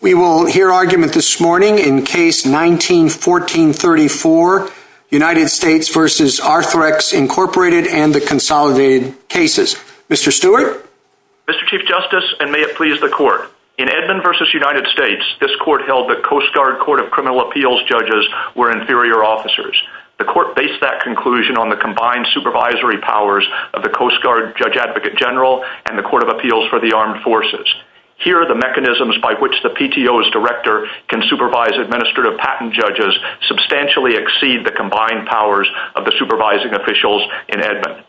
We will hear argument this morning in Case 19-1434, United States v. Arthrex, Inc. and the consolidated cases. Mr. Stewart? Mr. Chief Justice, and may it please the Court, in Edmond v. United States, this Court held that Coast Guard Court of Criminal Appeals judges were inferior officers. The Court based that conclusion on the combined supervisory powers of the Coast Guard Judge Advocate General and the Court of Appeals for the Armed Forces. Here, the mechanisms by which the PTO's Director can supervise administrative patent judges substantially exceed the combined powers of the supervising officials in Edmond.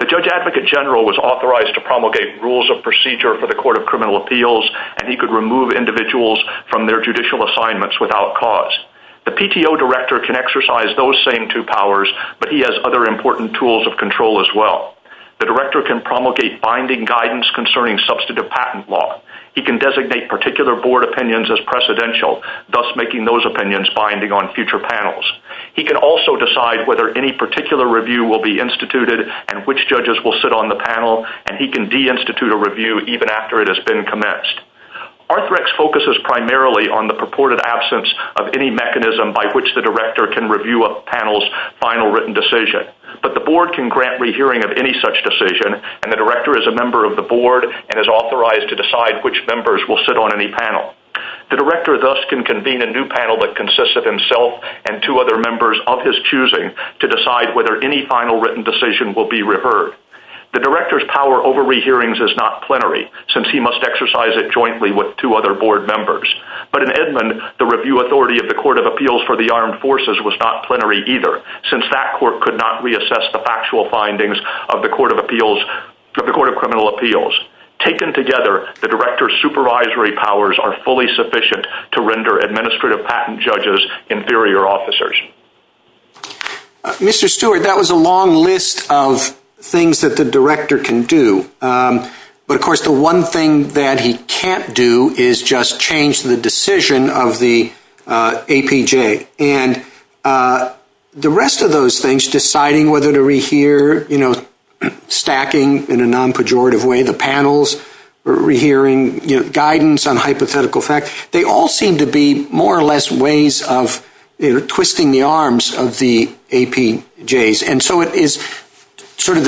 The Judge Advocate General was authorized to promulgate rules of procedure for the Court of Criminal Appeals, and he could remove individuals from their judicial assignments without cause. The PTO Director can exercise those same two powers, but he has other important tools of control as well. The Director can promulgate binding guidance concerning substantive patent law. He can designate particular Board opinions as precedential, thus making those opinions binding on future panels. He can also decide whether any particular review will be instituted and which judges will sit on the panel, and he can de-institute a review even after it has been commenced. Arthrex focuses primarily on the purported absence of any mechanism by which the Director can review a panel's final written decision. But the Board can grant rehearing of any such decision, and the Director is a member of the Board and is authorized to decide which members will sit on any panel. The Director thus can convene a new panel that consists of himself and two other members of his choosing to decide whether any final written decision will be revered. The Director's power over rehearings is not plenary, since he must exercise it jointly with two other Board members. But in Edmund, the review authority of the Court of Appeals for the Armed Forces was not plenary either, since that Court could not reassess the factual findings of the Court of Criminal Appeals. Taken together, the Director's supervisory powers are fully sufficient to render administrative patent judges inferior officers. Mr. Stewart, that was a long list of things that the Director can do. But of course, the one thing that he can't do is just change the decision of the APJ. And the rest of those things, deciding whether to rehear, stacking in a non-pejorative way the panels, or rehearing guidance on hypothetical facts, they all seem to be more or less ways of twisting the arms of the APJs. And so it is sort of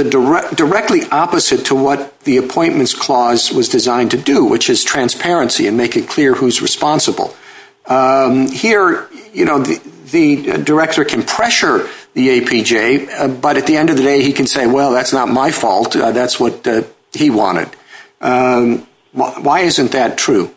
directly opposite to what the Appointments Clause was designed to do, which is transparency and making clear who's responsible. Here, the Director can pressure the APJ, but at the end of the day, he can say, well, that's not my fault, that's what he wanted. Why isn't that true?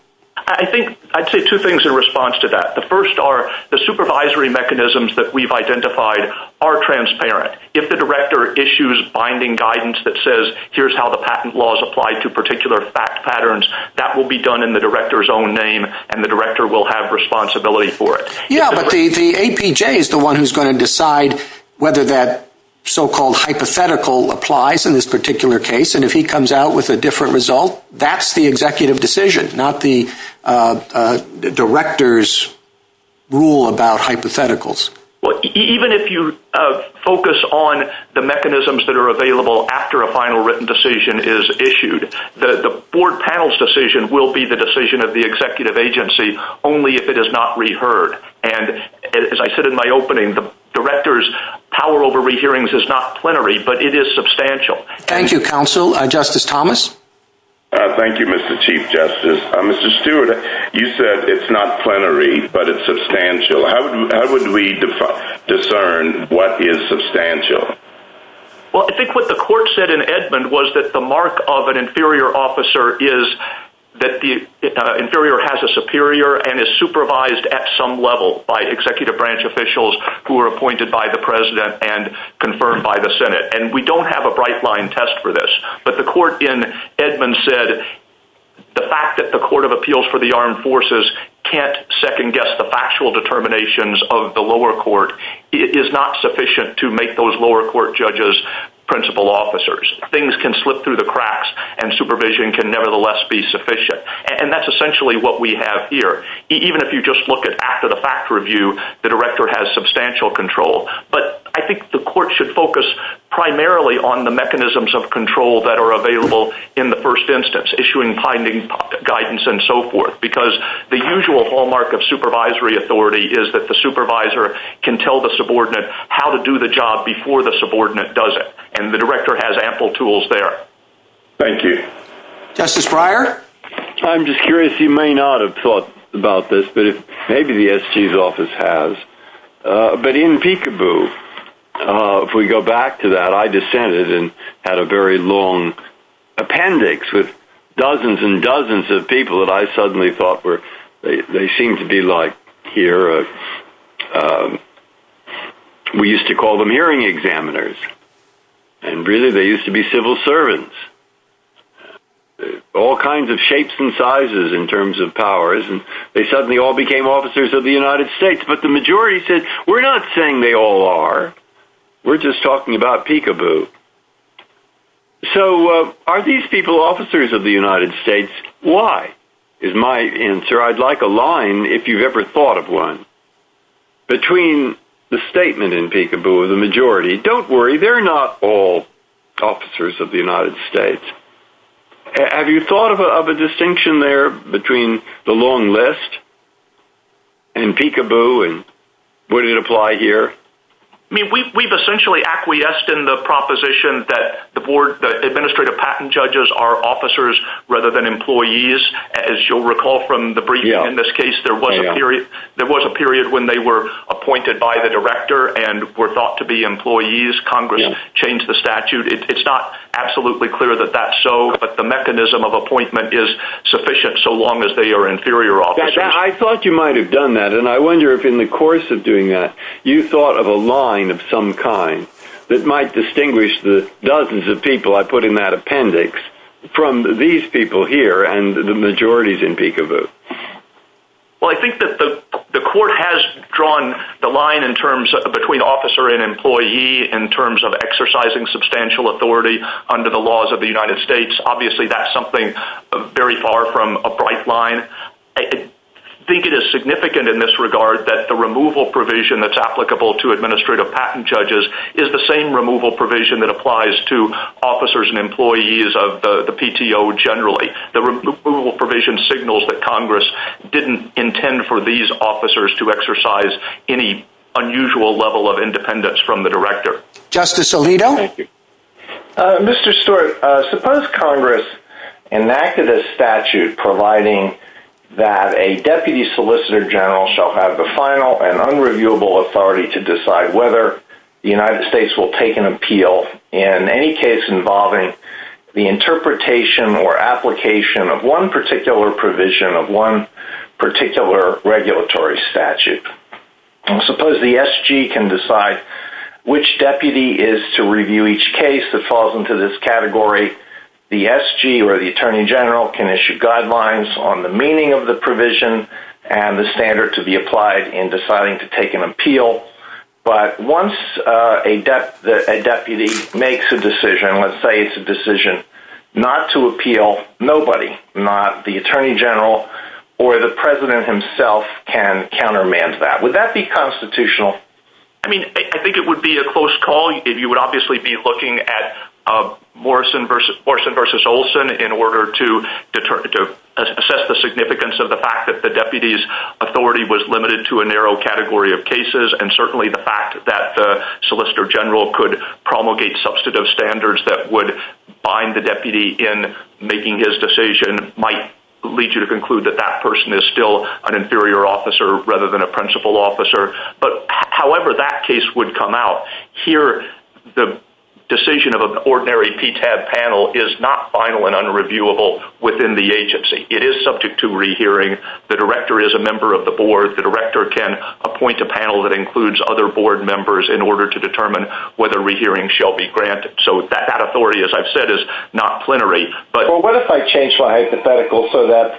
I'd say two things in response to that. The first are, the supervisory mechanisms that we've identified are transparent. If the Director issues binding guidance that says, here's how the patent laws apply to particular fact patterns, that will be done in the Director's own name, and the Director will have responsibility for it. Yeah, but the APJ is the one who's going to decide whether that so-called hypothetical applies in this particular case. And if he comes out with a different result, that's the executive decision, not the Director's rule about hypotheticals. Well, even if you focus on the mechanisms that are available after a final written decision is issued, the Board panel's decision will be the decision of the executive agency only if it is not reheard. And as I said in my opening, the Director's power over rehearings is not plenary, but it is substantial. Thank you, Counsel. Justice Thomas? Thank you, Mr. Chief Justice. Mr. Stewart, you said it's not plenary, but it's substantial. How would we discern what is substantial? Well, I think what the Court said in Edmund was that the mark of an inferior officer is that the inferior has a superior and is supervised at some level by executive branch officials who are appointed by the President and confirmed by the Senate. And we don't have a bright-line test for this. But the Court in Edmund said the fact that the Court of Appeals for the Armed Forces can't second-guess the factual determinations of the lower court is not sufficient to make those lower court judges principal officers. Things can slip through the cracks, and supervision can nevertheless be sufficient. And that's essentially what we have here. Even if you just look at after-the-fact review, the Director has substantial control. But I think the Court should focus primarily on the mechanisms of control that are available in the first instance, issuing binding guidance and so forth, because the usual hallmark of supervisory authority is that the supervisor can tell the subordinate how to do the job before the subordinate does it. And the Director has ample tools there. Thank you. Justice Breyer? I'm just curious. You may not have thought about this, but maybe the SG's office has. But in Peekaboo, if we go back to that, I dissented and had a very long appendix with dozens and dozens of people that I suddenly thought were, they seemed to be like here, we used to call them hearing examiners. And really, they used to be civil servants. All kinds of shapes and sizes in terms of powers, and they suddenly all became officers of the United States. But the majority said, we're not saying they all are. We're just talking about Peekaboo. So are these people officers of the United States? Why, is my answer. I'd like a line, if you've ever thought of one, between the statement in Peekaboo and the majority. Don't worry. They're not all officers of the United States. Have you thought of a distinction there between the long list and Peekaboo, and would it apply here? We've essentially acquiesced in the proposition that the board, the administrative patent judges are officers rather than employees. As you'll recall from the briefing in this case, there was a period when they were appointed by the director and were thought to be employees. Congress changed the statute. It's not absolutely clear that that's so, but the mechanism of appointment is sufficient so long as they are inferior officers. I thought you might have done that, and I wonder if in the course of doing that, you thought of a line of some kind that might distinguish the dozens of people I put in that appendix from these people here and the majorities in Peekaboo. Well, I think that the court has drawn the line between officer and employee in terms of exercising substantial authority under the laws of the United States. Obviously, that's something very far from a bright line. I think it is significant in this regard that the removal provision that's applicable to administrative patent judges is the same removal provision that applies to officers and employees of the PTO generally. The removal provision signals that Congress didn't intend for these officers to exercise any unusual level of independence from the director. Justice Alito? Thank you. Mr. Stewart, suppose Congress enacted a statute providing that a deputy solicitor general shall have the final and unreviewable authority to decide whether the United States will take an appeal in any case involving the interpretation or application of one particular provision of one particular regulatory statute. Suppose the SG can decide which deputy is to review each case that falls into this category. The SG or the attorney general can issue guidelines on the meaning of the provision and the standard to be applied in deciding to take an appeal. But once a deputy makes a decision, let's say it's a decision not to appeal, nobody, not the attorney general or the president himself can countermand that. Would that be constitutional? I think it would be a close call. You would obviously be looking at Morrison v. Olson in order to assess the significance of the fact that the agency's authority was limited to a narrow category of cases and certainly the fact that the solicitor general could promulgate substantive standards that would bind the deputy in making his decision might lead you to conclude that that person is still an inferior officer rather than a principal officer. However that case would come out, here the decision of an ordinary PTAD panel is not final and unreviewable within the agency. It is subject to rehearing. The director is a member of the board. The director can appoint a panel that includes other board members in order to determine whether rehearing shall be granted. So that authority, as I've said, is not plenary. What if I change my hypothetical so that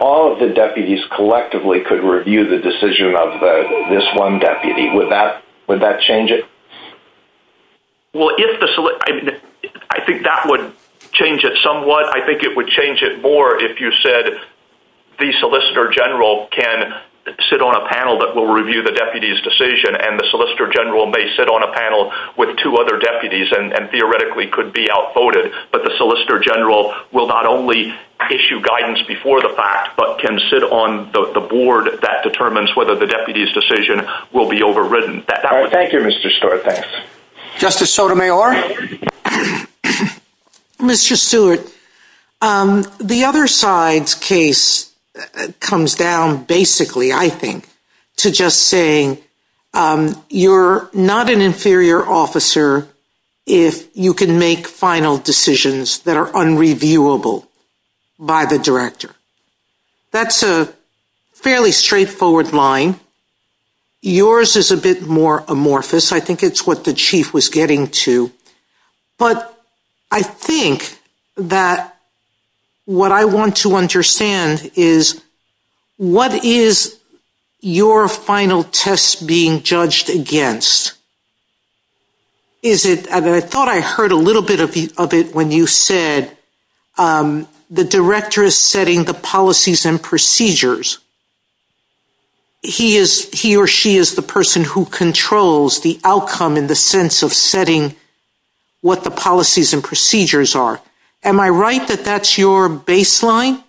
all of the deputies collectively could review the decision of this one deputy? Would that change it? I think that would change it somewhat. I think it would change it more if you said the solicitor general can sit on a panel that will review the deputy's decision and the solicitor general may sit on a panel with two other deputies and theoretically could be outvoted, but the solicitor general will not only issue guidance before the fact but can sit on the board that determines whether the deputy's decision will be overridden. Thank you, Mr. Stewart. Justice Sotomayor? Mr. Stewart, the other side's case comes down basically, I think, to just saying you're not an inferior officer if you can make final decisions that are unreviewable by the director. That's a fairly straightforward line. Yours is a bit more amorphous. I think it's what the chief was getting to. But I think that what I want to understand is what is your final test being judged against? I thought I heard a little bit of it when you said the director is setting the policies and procedures. He or she is the person who controls the outcome in the sense of setting what the policies and procedures are. Am I right that that's your baseline?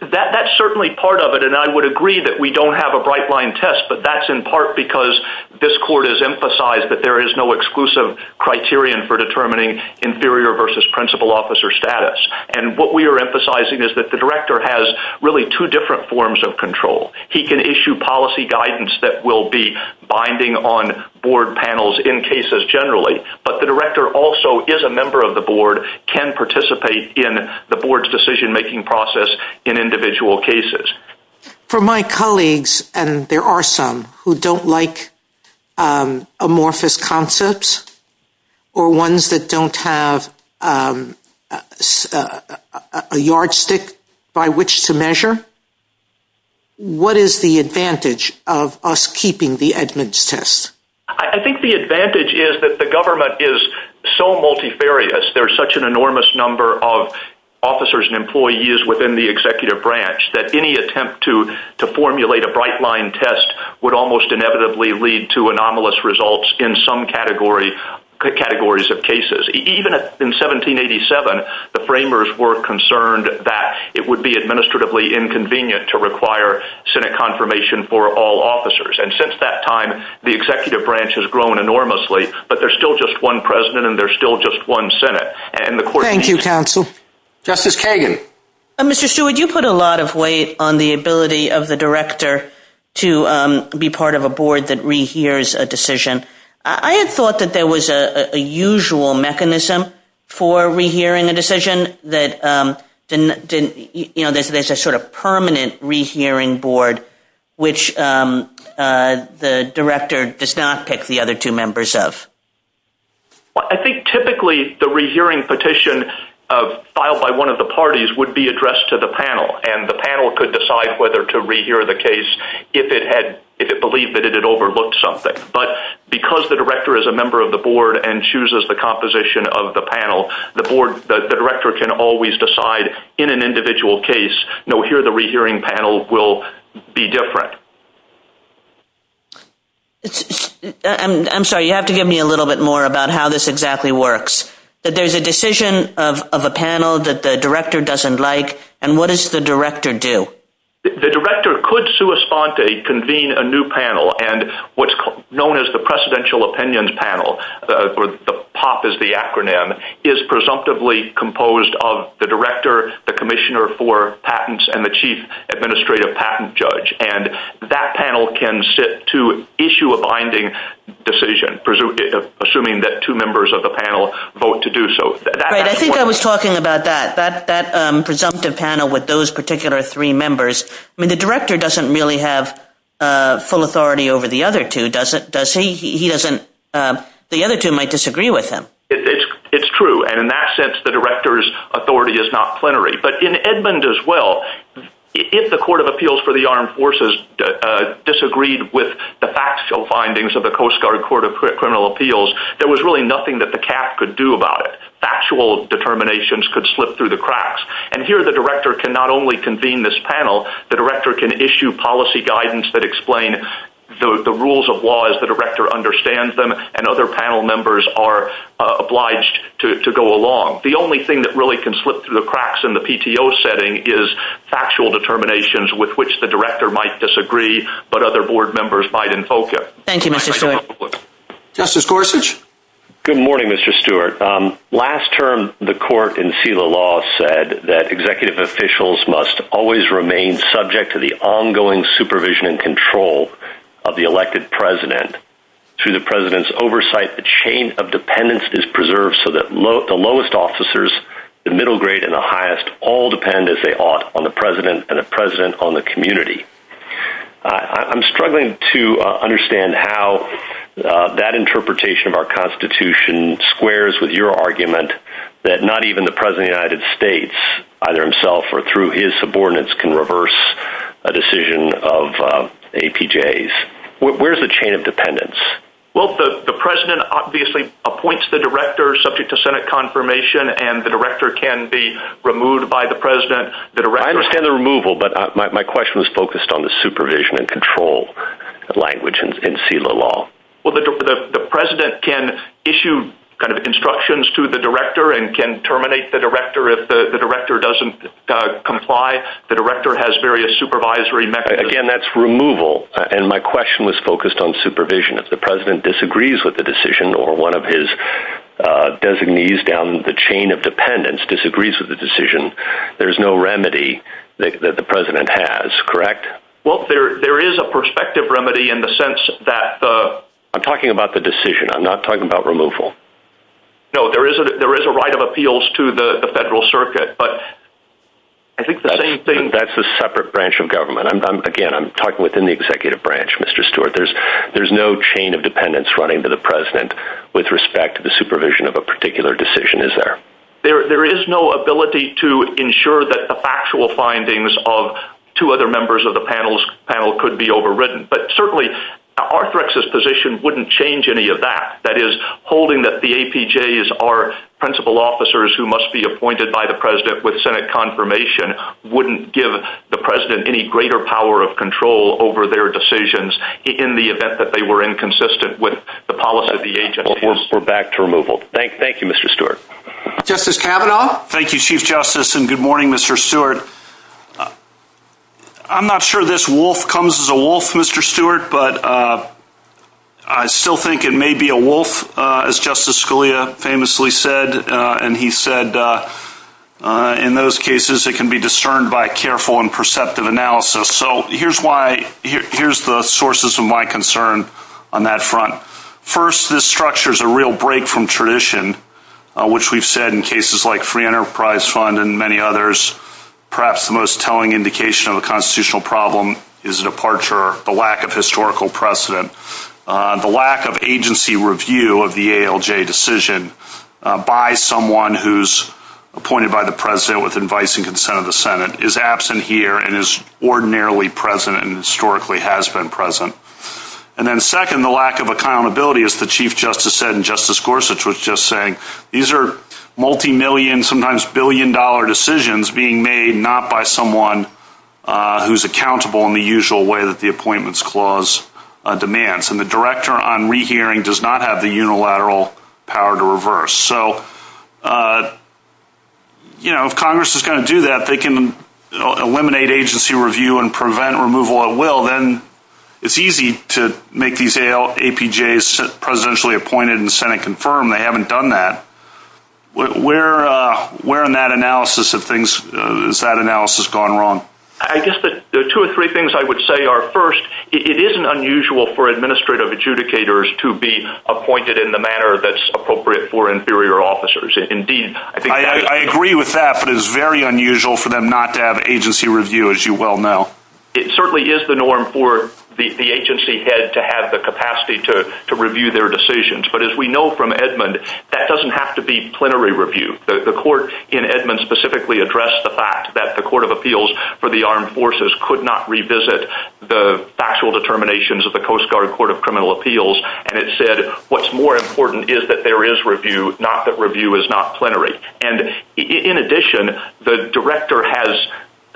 That's certainly part of it, and I would agree that we don't have a right-line test, but that's in part because this court has emphasized that there is no exclusive criterion for determining inferior versus principal officer status. And what we are emphasizing is that the director has really two different forms of control. He can issue policy guidance that will be binding on board panels in cases generally, but the director also is a member of the board, can participate in the board's decision-making process in individual cases. For my colleagues, and there are some who don't like amorphous concepts or ones that don't have a yardstick by which to measure, what is the advantage of us keeping the Edmunds test? I think the advantage is that the government is so multifarious. There's such an enormous number of officers and employees within the executive branch that any attempt to formulate a right-line test would almost inevitably lead to anomalous results in some categories of cases. Even in 1787, the framers were concerned that it would be administratively inconvenient to require Senate confirmation for all officers. And since that time, the executive branch has grown enormously, but there's still just one president and there's still just one Senate. Thank you, counsel. Justice Kagan. Mr. Stewart, you put a lot of weight on the ability of the director to be part of a board that rehears a decision. I had thought that there was a usual mechanism for rehearing a decision, but there's a sort of permanent rehearing board, which the director does not pick the other two members of. I think typically the rehearing petition filed by one of the parties would be addressed to the panel, and the panel could decide whether to rehear the case if it believed that it had overlooked something. But because the director is a member of the board and chooses the composition of the panel, the director can always decide in an individual case, no, here the rehearing panel will be different. I'm sorry, you have to give me a little bit more about how this exactly works. There's a decision of a panel that the director doesn't like, and what does the director do? The director could sui sponte, convene a new panel, and what's known as the Presidential Opinions Panel, or the POP is the acronym, is presumptively composed of the director, the commissioner for patents, and the chief administrative patent judge, and that panel can sit to issue a binding decision, assuming that two members of the panel vote to do so. I think I was talking about that, that presumptive panel with those particular three members. The director doesn't really have full authority over the other two, does he? The other two might disagree with him. It's true, and in that sense the director's authority is not plenary. But in Edmund as well, if the Court of Appeals for the Armed Forces disagreed with the factual findings of the Coast Guard Court of Criminal Appeals, there was really nothing that the CAP could do about it. Factual determinations could slip through the cracks, and here the director can not only convene this panel, the director can issue policy guidance that explains the rules of law as the director understands them, and other panel members are obliged to go along. The only thing that really can slip through the cracks in the PTO setting is factual determinations with which the director might disagree but other board members might invoke it. Thank you, Mr. Stewart. Justice Gorsuch? Good morning, Mr. Stewart. Last term, the court in seal of law said that executive officials must always remain subject to the ongoing supervision and control of the elected president. Through the president's oversight, the chain of dependence is preserved so that the lowest officers, the middle grade, and the highest all depend, as they ought, on the president and the president on the community. I'm struggling to understand how that interpretation of our Constitution squares with your argument that not even the president of the United States, either himself or through his subordinates, can reverse a decision of APJ's. Where is the chain of dependence? Well, the president obviously appoints the director subject to Senate confirmation, and the director can be removed by the president. I understand the removal, but my question was focused on the supervision and control language in seal of law. Well, the president can issue instructions to the director and can terminate the director if the director doesn't comply. The director has various supervisory methods. Again, that's removal, and my question was focused on supervision. If the president disagrees with the decision or one of his designees down the chain of dependence disagrees with the decision, there's no remedy that the president has, correct? Well, there is a perspective remedy in the sense that the— I'm talking about the decision. I'm not talking about removal. No, there is a right of appeals to the federal circuit, but I think the same thing— That's a separate branch of government. Again, I'm talking within the executive branch, Mr. Stewart. There's no chain of dependence running to the president with respect to the supervision of a particular decision, is there? There is no ability to ensure that the factual findings of two other members of the panel could be overridden, but certainly, Arthrex's position wouldn't change any of that. That is, holding that the APJs are principal officers who must be appointed by the president with Senate confirmation wouldn't give the president any greater power of control over their decisions in the event that they were inconsistent with the policy of the agency. We're back to removal. Thank you, Mr. Stewart. Justice Kavanaugh? Thank you, Chief Justice, and good morning, Mr. Stewart. I'm not sure this wolf comes as a wolf, Mr. Stewart, but I still think it may be a wolf, as Justice Scalia famously said, and he said, in those cases, it can be discerned by careful and perceptive analysis. So here's the sources of my concern on that front. First, this structure is a real break from tradition, which we've said in cases like Free Enterprise Fund and many others, perhaps the most telling indication of a constitutional problem is departure, the lack of historical precedent. The lack of agency review of the ALJ decision by someone who's appointed by the president with advice and consent of the Senate is absent here and is ordinarily present and historically has been present. And then second, the lack of accountability, as the Chief Justice said, and Justice Gorsuch was just saying, these are multimillion, sometimes billion-dollar decisions being made not by someone who's accountable in the usual way that the Appointments Clause demands, and the Director on Rehearing does not have the unilateral power to reverse. So, you know, if Congress is going to do that, they can eliminate agency review and prevent removal at will, then it's easy to make these APJs presidentially appointed and the Senate confirm they haven't done that. Where in that analysis has that analysis gone wrong? I guess the two or three things I would say are, first, it isn't unusual for administrative adjudicators to be appointed in the manner that's appropriate for inferior officers. I agree with that, but it's very unusual for them not to have agency review, as you well know. It certainly is the norm for the agency head to have the capacity to review their decisions. But as we know from Edmund, that doesn't have to be plenary review. The court in Edmund specifically addressed the fact that the Court of Appeals for the Armed Forces could not revisit the factual determinations of the Coast Guard Court of Criminal Appeals, and it said what's more important is that there is review, not that review is not plenary. And in addition, the director has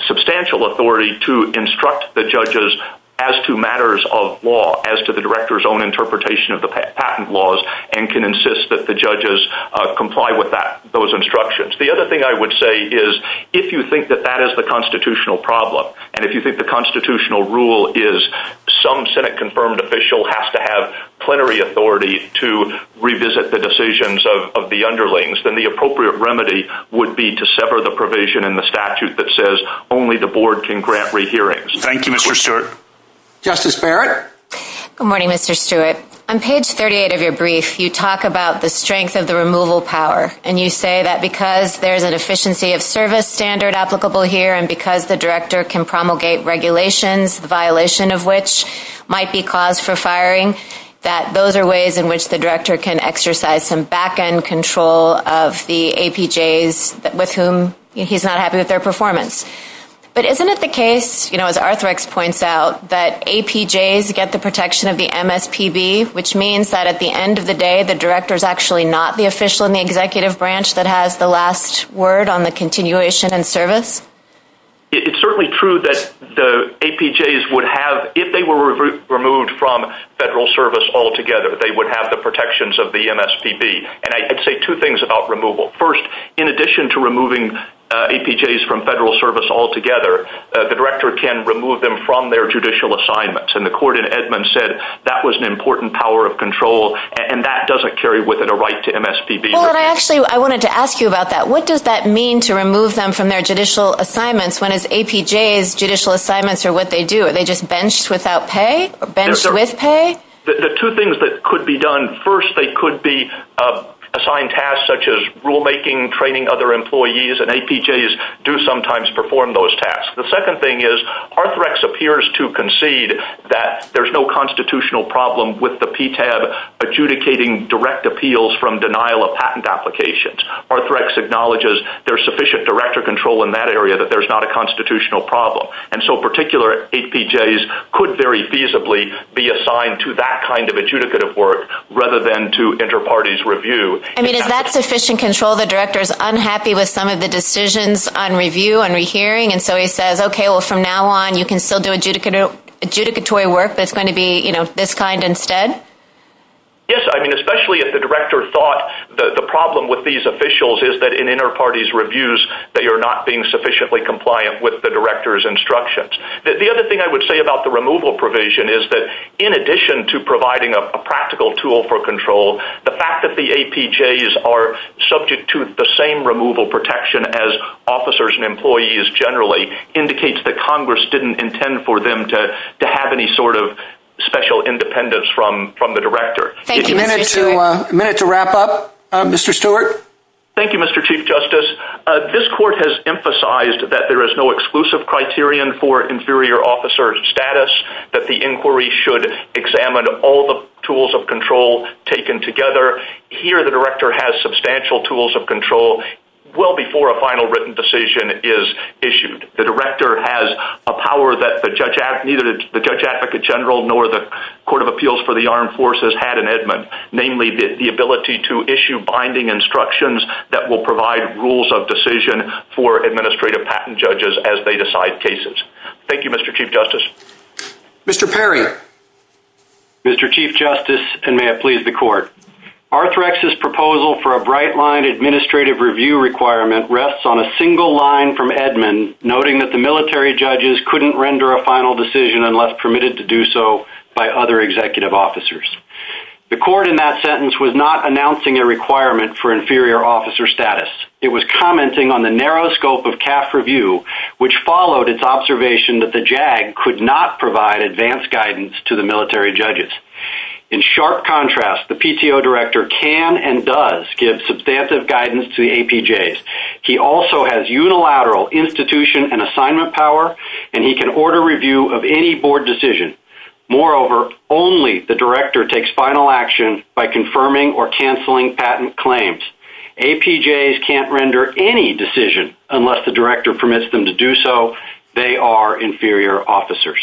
substantial authority to instruct the judges as to matters of law, as to the director's own interpretation of the patent laws, and can insist that the judges comply with those instructions. The other thing I would say is, if you think that that is the constitutional problem, and if you think the constitutional rule is some Senate-confirmed official has to have plenary authority to revisit the decisions of the underlings, then the appropriate remedy would be to sever the provision in the statute that says only the board can grant rehearings. Thank you, Mr. Stewart. Justice Barrett? Good morning, Mr. Stewart. On page 38 of your brief, you talk about the strength of the removal power, and you say that because there's a deficiency of service standard applicable here and because the director can promulgate regulations, the violation of which might be cause for firing, that those are ways in which the director can exercise some back-end control of the APJs with whom he's not happy with their performance. But isn't it the case, you know, as Arthrex points out, that APJs get the protection of the MSPB, which means that at the end of the day the director is actually not the official in the executive branch that has the last word on the continuation in service? It's certainly true that the APJs would have, if they were removed from federal service altogether, they would have the protections of the MSPB. And I'd say two things about removal. First, in addition to removing APJs from federal service altogether, the director can remove them from their judicial assignments. And the court in Edmond said that was an important power of control, and that doesn't carry with it a right to MSPB. Actually, I wanted to ask you about that. What does that mean to remove them from their judicial assignments when it's APJs' judicial assignments are what they do? Are they just benched without pay or benched with pay? The two things that could be done. First, they could be assigned tasks such as rulemaking, training other employees, and APJs do sometimes perform those tasks. The second thing is Arthrex appears to concede that there's no constitutional problem with the PTAB adjudicating direct appeals from denial of patent applications. Arthrex acknowledges there's sufficient director control in that area, but there's not a constitutional problem. And so particular APJs could very feasibly be assigned to that kind of adjudicative work rather than to inter-parties review. I mean, is that sufficient control? The director is unhappy with some of the decisions on review and rehearing, and so he says, okay, well, from now on you can still do adjudicatory work but it's going to be this kind instead? Yes, I mean, especially if the director thought the problem with these officials is that in inter-parties reviews they are not being sufficiently compliant with the director's instructions. The other thing I would say about the removal provision is that in addition to providing a practical tool for control, the fact that the APJs are subject to the same removal protection as officers and employees generally indicates that Congress didn't intend for them to have any sort of special independence from the director. A minute to wrap up. Mr. Stewart. Thank you, Mr. Chief Justice. This court has emphasized that there is no exclusive criterion for inferior officer status, that the inquiry should examine all the tools of control taken together. Here the director has substantial tools of control well before a final written decision is issued. The director has a power that neither the Judge Advocate General nor the Court of Appeals for the Armed Forces had in Edmund, namely the ability to issue binding instructions that will provide rules of decision for administrative patent judges as they decide cases. Thank you, Mr. Chief Justice. Mr. Perry. Mr. Chief Justice, and may it please the court. Arthrex's proposal for a bright-line administrative review requirement rests on a single line from Edmund, noting that the military judges couldn't render a final decision unless permitted to do so by other executive officers. The court in that sentence was not announcing a requirement for inferior officer status. It was commenting on the narrow scope of CAF review, which followed its observation that the JAG could not provide advanced guidance to the military judges. In sharp contrast, the PTO director can and does give substantive guidance to the APJs. He also has unilateral institution and assignment power, and he can order review of any board decision. Moreover, only the director takes final action by confirming or canceling patent claims. APJs can't render any decision unless the director permits them to do so. They are inferior officers.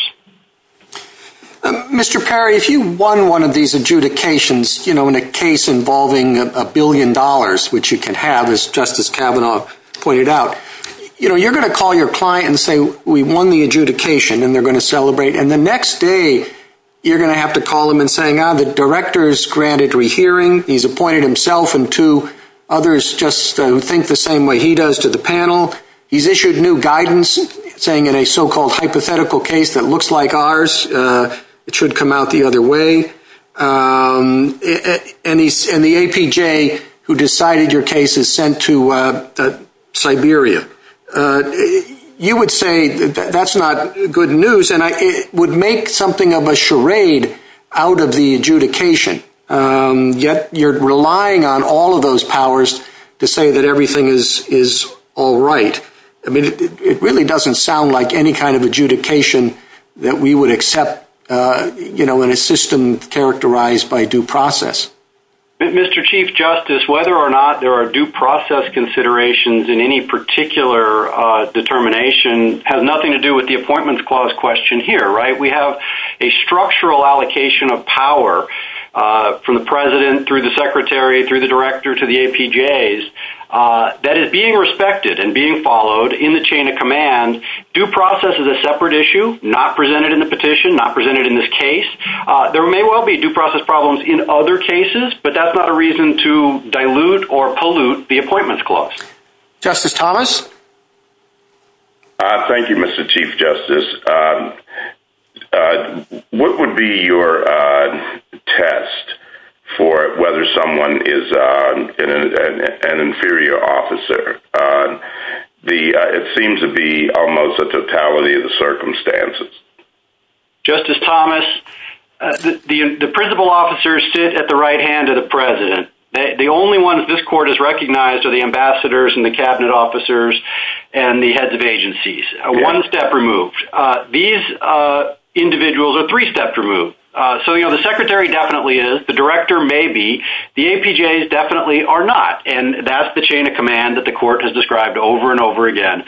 Mr. Perry, if you won one of these adjudications, you know, in a case involving a billion dollars, which you can have, as Justice Kavanaugh pointed out, you know, you're going to call your client and say, we won the adjudication, and they're going to celebrate. And the next day, you're going to have to call them and say, ah, the director is granted rehearing. He's appointed himself and two others just think the same way he does to the panel. He's issued new guidance, saying in a so-called hypothetical case that looks like ours, it should come out the other way. And the APJ who decided your case is sent to Siberia. You would say that's not good news, and it would make something of a charade out of the adjudication. Yet you're relying on all of those powers to say that everything is all right. I mean, it really doesn't sound like any kind of adjudication that we would accept, you know, in a system characterized by due process. Mr. Chief Justice, whether or not there are due process considerations in any particular determination has nothing to do with the Appointments Clause question here, right? We have a structural allocation of power from the president through the secretary through the director to the APJs that is being respected and being followed in the chain of command. Due process is a separate issue, not presented in the petition, not presented in this case. There may well be due process problems in other cases, but that's not a reason to dilute or pollute the Appointments Clause. Justice Thomas? Thank you, Mr. Chief Justice. What would be your test for whether someone is an inferior officer? It seems to be almost a totality of the circumstances. Justice Thomas, the principal officers sit at the right hand of the president. The only ones this court has recognized are the ambassadors and the cabinet officers and the heads of agencies. One step removed. These individuals are three steps removed. So, you know, the secretary definitely is. The director may be. The APJs definitely are not. And that's the chain of command that the court has described over and over again.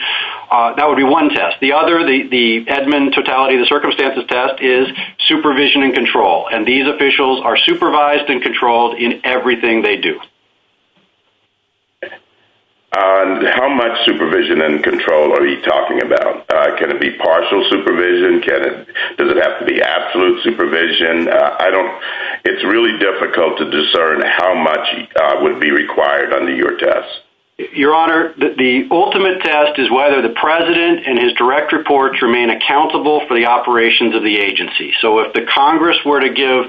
That would be one test. The other, the admin totality, the circumstances test, is supervision and control. And these officials are supervised and controlled in everything they do. How much supervision and control are you talking about? Can it be partial supervision? Does it have to be absolute supervision? It's really difficult to discern how much would be required under your test. Your Honor, the ultimate test is whether the president and his direct reports remain accountable for the operations of the agency. So if the Congress were to give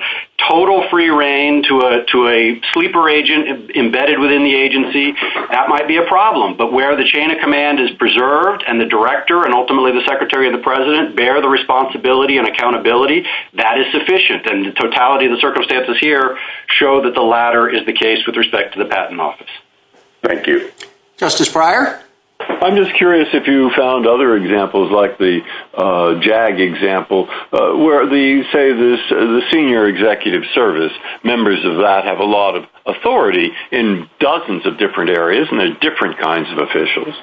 total free reign to a sleeper agent embedded within the agency, that might be a problem. But where the chain of command is preserved and the director and ultimately the secretary and the president bear the responsibility and accountability, that is sufficient. And the totality of the circumstances here show that the latter is the case with respect to the patent office. Thank you. Justice Breyer? I'm just curious if you found other examples like the JAG example where the, say, the senior executive service, members of that have a lot of authority in dozens of different areas and they're different kinds of officials.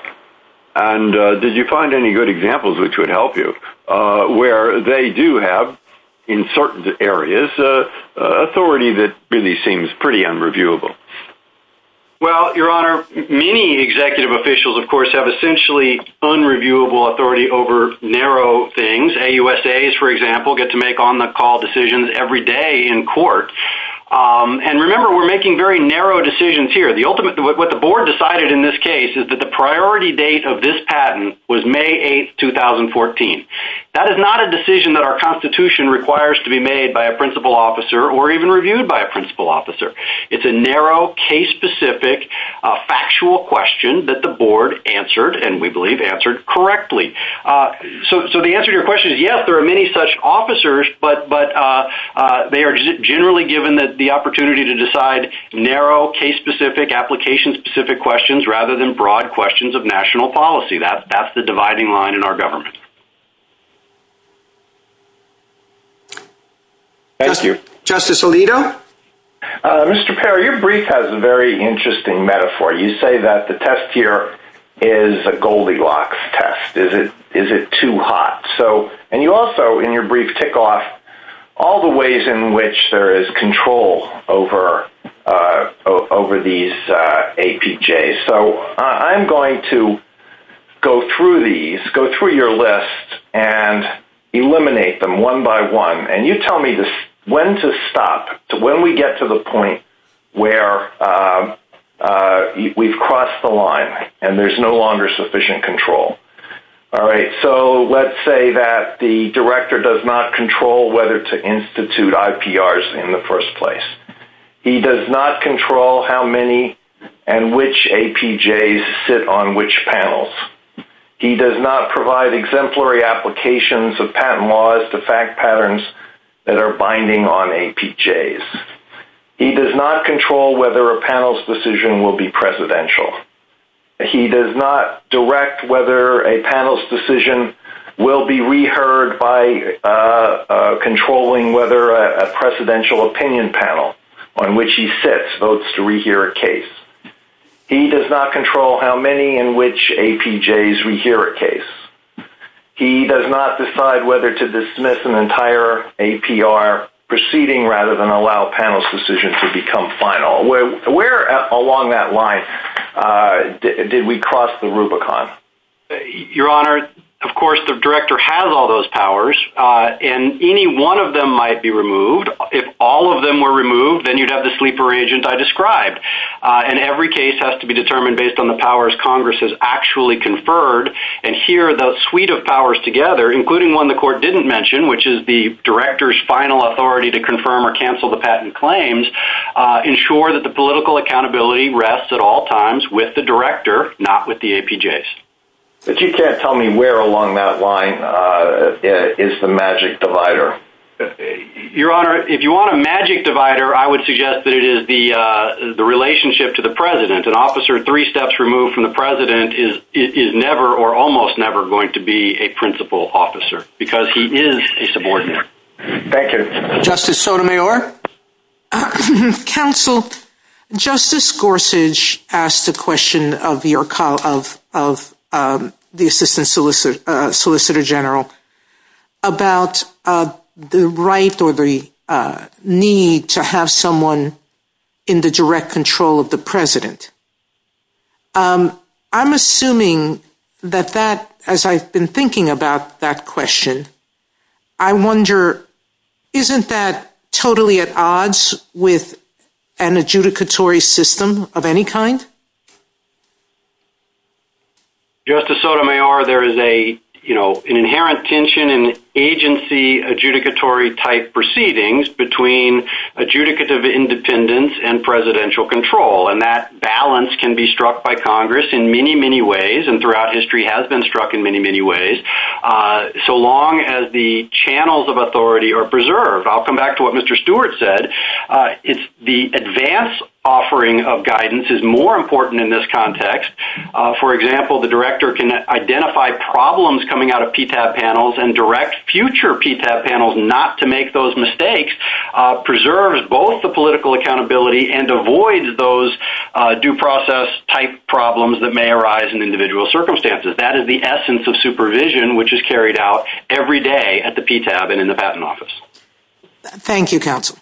And did you find any good examples which would help you where they do have, in certain areas, authority that really seems pretty unreviewable? Well, Your Honor, many executive officials, of course, have essentially unreviewable authority over narrow things. AUSAs, for example, get to make on-the-call decisions every day in court. And remember, we're making very narrow decisions here. What the board decided in this case is that the priority date of this patent was May 8, 2014. That is not a decision that our Constitution requires to be made by a principal officer or even reviewed by a principal officer. It's a narrow, case-specific, factual question that the board answered and we believe answered correctly. So the answer to your question is, yes, there are many such officers, but they are generally given the opportunity to decide narrow, case-specific, application-specific questions rather than broad questions of national policy. That's the dividing line in our government. Thank you. Justice Alito? Mr. Perry, your brief has a very interesting metaphor. You say that the test here is a Goldilocks test. Is it too hot? And you also, in your brief, tick off all the ways in which there is control over these APJs. So I'm going to go through these, go through your list, and eliminate them one by one. And you tell me when to stop, when we get to the point where we've crossed the line and there's no longer sufficient control. All right, so let's say that the director does not control whether to institute IPRs in the first place. He does not control how many and which APJs sit on which panels. He does not provide exemplary applications of patent laws to fact patterns that are binding on APJs. He does not control whether a panel's decision will be presidential. He does not direct whether a panel's decision will be reheard by controlling whether a presidential opinion panel on which he sits votes to rehear a case. He does not control how many and which APJs rehear a case. He does not decide whether to dismiss an entire APR proceeding rather than allow a panel's decision to become final. Where along that line did we cross the Rubicon? Your Honor, of course, the director has all those powers, and any one of them might be removed. If all of them were removed, then you'd have the sleeper agent I described. And every case has to be determined based on the powers Congress has actually conferred. And here, the suite of powers together, including one the court didn't mention, which is the director's final authority to confirm or cancel the patent claims, ensure that the political accountability rests at all times with the director, not with the APJs. If you can't tell me where along that line is the magic divider. Your Honor, if you want a magic divider, I would suggest that it is the relationship to the president. An officer three steps removed from the president is never or almost never going to be a principal officer because he is a subordinate. Thank you. Justice Sotomayor? Counsel, Justice Gorsuch asked a question of the assistant solicitor general about the right or the need to have someone in the direct control of the president. I'm assuming that that, as I've been thinking about that question, I wonder, isn't that totally at odds with an adjudicatory system of any kind? Justice Sotomayor, there is an inherent tension in agency adjudicatory type proceedings between adjudicative independence and presidential control. That balance can be struck by Congress in many, many ways and throughout history has been struck in many, many ways, so long as the channels of authority are preserved. I'll come back to what Mr. Stewart said. The advanced offering of guidance is more important in this context. For example, the director can identify problems coming out of PTAP panels and direct future PTAP panels not to make those mistakes, preserves both the political accountability and avoids those due process type problems that may arise in individual circumstances. That is the essence of supervision which is carried out every day at the PTAP and in the patent office. Thank you, counsel.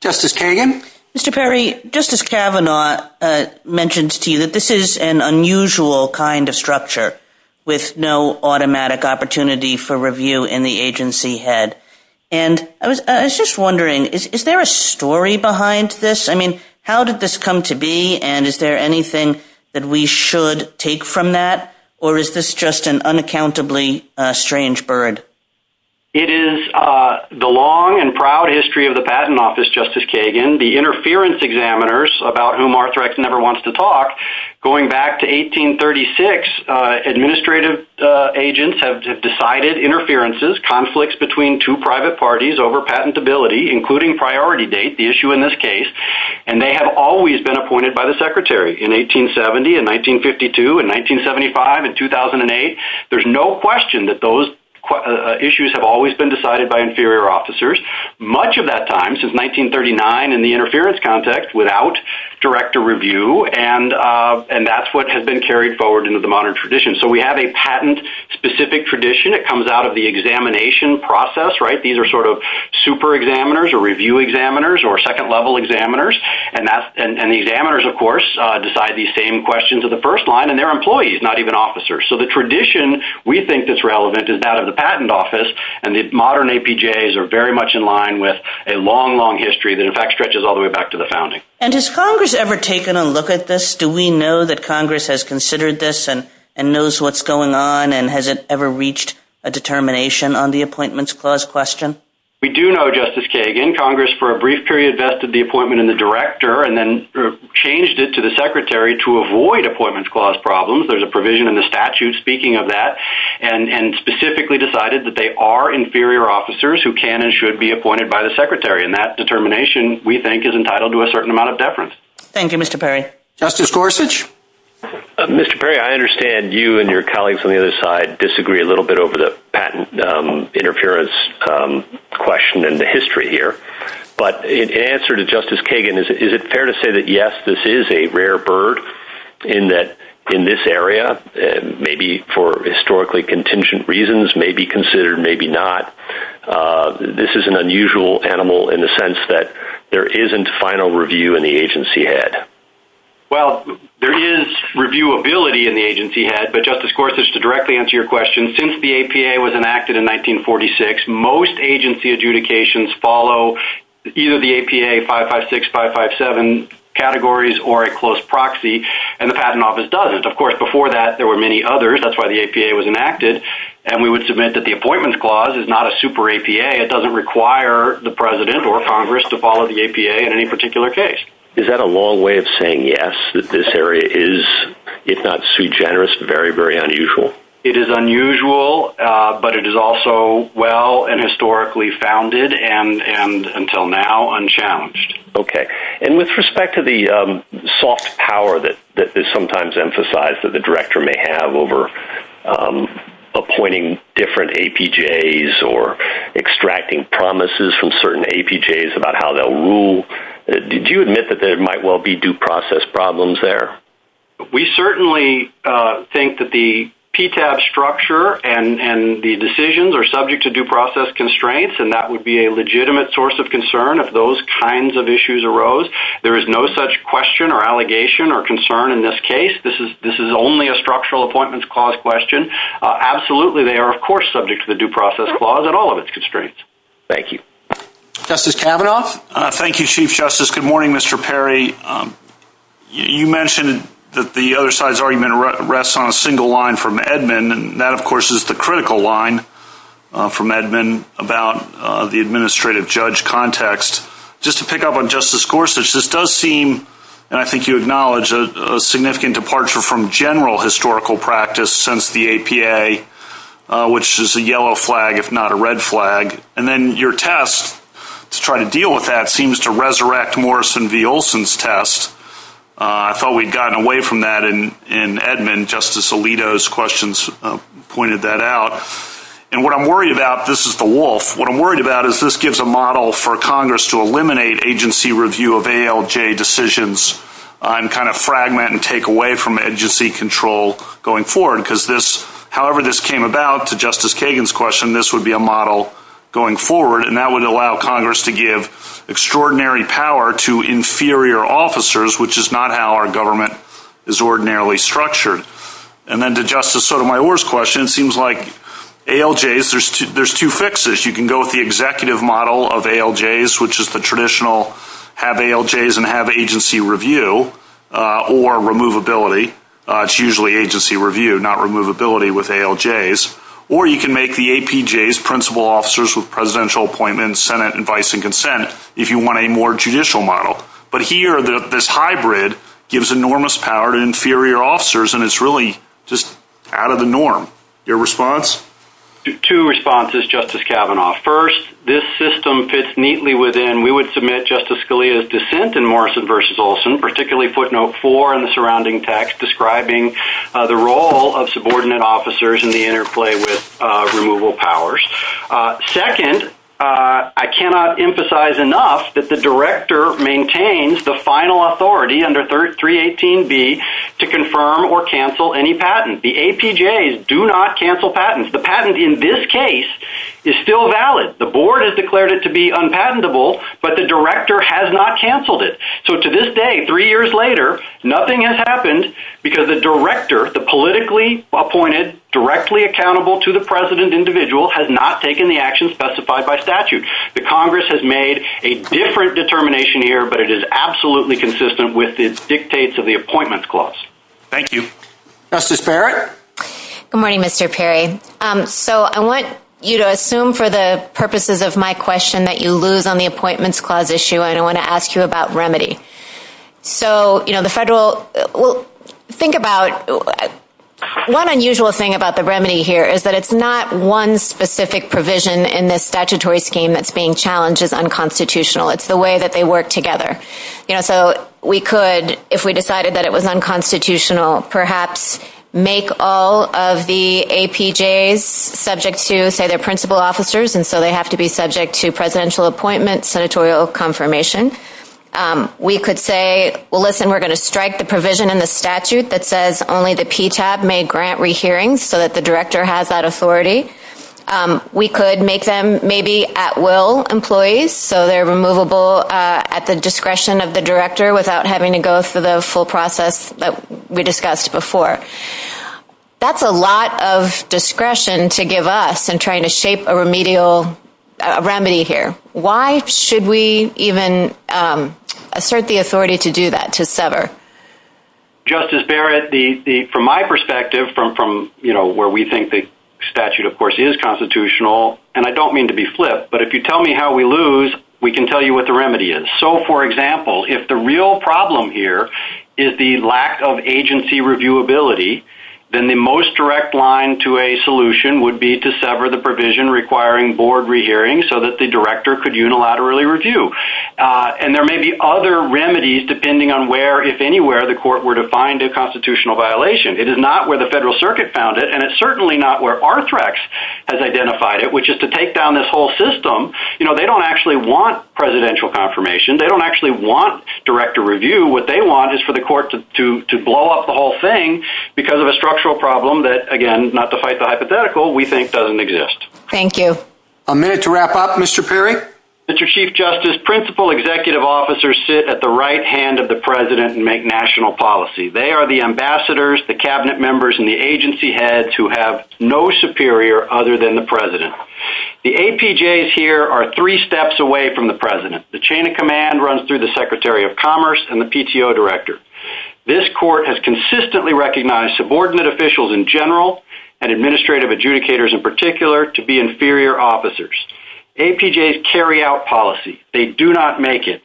Justice Kagan? Mr. Perry, Justice Kavanaugh mentioned to you that this is an unusual kind of structure with no automatic opportunity for review in the agency head. I was just wondering, is there a story behind this? I mean, how did this come to be and is there anything that we should take from that or is this just an unaccountably strange bird? It is the long and proud history of the patent office, Justice Kagan, the interference examiners about whom Arthrex never wants to talk. Going back to 1836, administrative agents have decided interferences, conflicts between two private parties over patentability, including priority date, the issue in this case, and they have always been appointed by the secretary. In 1870 and 1952 and 1975 and 2008, there is no question that those issues have always been decided by inferior officers. Much of that time, since 1939 in the interference context, without director review, and that is what has been carried forward into the modern tradition. So we have a patent-specific tradition that comes out of the examination process. These are sort of super examiners or review examiners or second-level examiners, and the examiners, of course, decide these same questions at the first line, and they are employees, not even officers. So the tradition we think that is relevant is that of the patent office, and the modern APJAs are very much in line with a long, long history that, in fact, stretches all the way back to the founding. And has Congress ever taken a look at this? Do we know that Congress has considered this and knows what is going on, and has it ever reached a determination on the appointments clause question? We do know, Justice Kagan, Congress for a brief period vested the appointment in the director and then changed it to the secretary to avoid appointment clause problems. There's a provision in the statute speaking of that, and specifically decided that they are inferior officers who can and should be appointed by the secretary, and that determination, we think, is entitled to a certain amount of deference. Thank you, Mr. Perry. Justice Gorsuch? Mr. Perry, I understand you and your colleagues on the other side disagree a little bit over the patent interference question and the history here, but in answer to Justice Kagan, is it fair to say that, yes, this is a rare bird in this area, maybe for historically contingent reasons, maybe considered, maybe not? This is an unusual animal in the sense that there isn't final review in the agency head. Well, there is reviewability in the agency head, but, Justice Gorsuch, to directly answer your question, since the APA was enacted in 1946, most agency adjudications follow either the APA 556, 557 categories or a close proxy, and the Patent Office doesn't. Of course, before that, there were many others. That's why the APA was enacted, and we would submit that the appointment clause is not a super APA. It doesn't require the president or Congress to follow the APA in any particular case. Is that a long way of saying yes, that this area is, if not too generous, very, very unusual? It is unusual, but it is also well and historically founded and, until now, unchallenged. Okay. And with respect to the soft power that is sometimes emphasized that the director may have over appointing different APJAs or extracting promises from certain APJAs about how they'll rule, did you admit that there might well be due process problems there? We certainly think that the PTAB structure and the decisions are subject to due process constraints, and that would be a legitimate source of concern if those kinds of issues arose. There is no such question or allegation or concern in this case. This is only a structural appointments clause question. Absolutely, they are, of course, subject to the due process clause and all of its constraints. Thank you. Justice Kavanaugh? Thank you, Chief Justice. Good morning, Mr. Perry. You mentioned that the other side's argument rests on a single line from Edmund, and that, of course, is the critical line from Edmund about the administrative judge context. Just to pick up on Justice Gorsuch, this does seem, and I think you acknowledge, a significant departure from general historical practice since the APA, which is a yellow flag, if not a red flag. And then your test to try to deal with that seems to resurrect Morrison v. Olson's test. I thought we'd gotten away from that in Edmund. Justice Alito's questions pointed that out. And what I'm worried about, this is the wolf, what I'm worried about is this gives a model for Congress to eliminate agency review of ALJ decisions and kind of fragment and take away from agency control going forward, because however this came about, to Justice Kagan's question, this would be a model going forward, and that would allow Congress to give extraordinary power to inferior officers, which is not how our government is ordinarily structured. And then to Justice Sotomayor's question, it seems like ALJs, there's two fixes. You can go with the executive model of ALJs, which is the traditional have ALJs and have agency review or removability. It's usually agency review, not removability with ALJs. Or you can make the APJs principal officers with presidential appointments, Senate advice and consent, if you want a more judicial model. But here, this hybrid gives enormous power to inferior officers, and it's really just out of the norm. Your response? Two responses, Justice Kavanaugh. First, this system fits neatly within, we would submit Justice Scalia's dissent in Morrison v. Olson, particularly footnote four in the surrounding text describing the role of subordinate officers in the interplay with removal powers. Second, I cannot emphasize enough that the director maintains the final authority under 318B to confirm or cancel any patent. The APJs do not cancel patents. The patent in this case is still valid. The board has declared it to be unpatentable, but the director has not canceled it. So to this day, three years later, nothing has happened because the director, the politically appointed, directly accountable to the president individual has not taken the actions specified by statute. The Congress has made a different determination here, but it is absolutely consistent with the dictates of the appointments clause. Thank you. Justice Perry? Good morning, Mr. Perry. So I want you to assume for the purposes of my question that you lose on the appointments clause issue, and I want to ask you about remedy. So, you know, the federal, think about, one unusual thing about the remedy here is that it's not one specific provision in the statutory scheme that's being challenged as unconstitutional. It's the way that they work together. You know, so we could, if we decided that it was unconstitutional, perhaps make all of the APJs subject to, say, their principal officers, and so they have to be subject to presidential appointments, senatorial confirmation. We could say, well, listen, we're going to strike the provision in the statute that says only the PTAB may grant rehearings so that the director has that authority. We could make them maybe at-will employees, so they're removable at the discretion of the director without having to go through the full process that we discussed before. That's a lot of discretion to give us in trying to shape a remedial remedy here. Why should we even assert the authority to do that, to sever? Justice Barrett, from my perspective, from, you know, where we think the statute, of course, is constitutional, and I don't mean to be flip, but if you tell me how we lose, we can tell you what the remedy is. So, for example, if the real problem here is the lack of agency reviewability, then the most direct line to a solution would be to sever the provision requiring board rehearing so that the director could unilaterally review. And there may be other remedies depending on where, if anywhere, the court were to find a constitutional violation. It is not where the Federal Circuit found it, and it's certainly not where Arthrex has identified it, which is to take down this whole system. You know, they don't actually want presidential confirmation. They don't actually want director review. What they want is for the court to blow up the whole thing because of a structural problem that, again, not to fight the hypothetical, we think doesn't exist. Thank you. A minute to wrap up, Mr. Perry. Mr. Chief Justice, principal executive officers sit at the right hand of the president and make national policy. They are the ambassadors, the cabinet members, and the agency heads who have no superior other than the president. The APJs here are three steps away from the president. The chain of command runs through the secretary of commerce and the PTO director. This court has consistently recognized subordinate officials in general and administrative adjudicators in particular to be inferior officers. APJs carry out policy. They do not make it.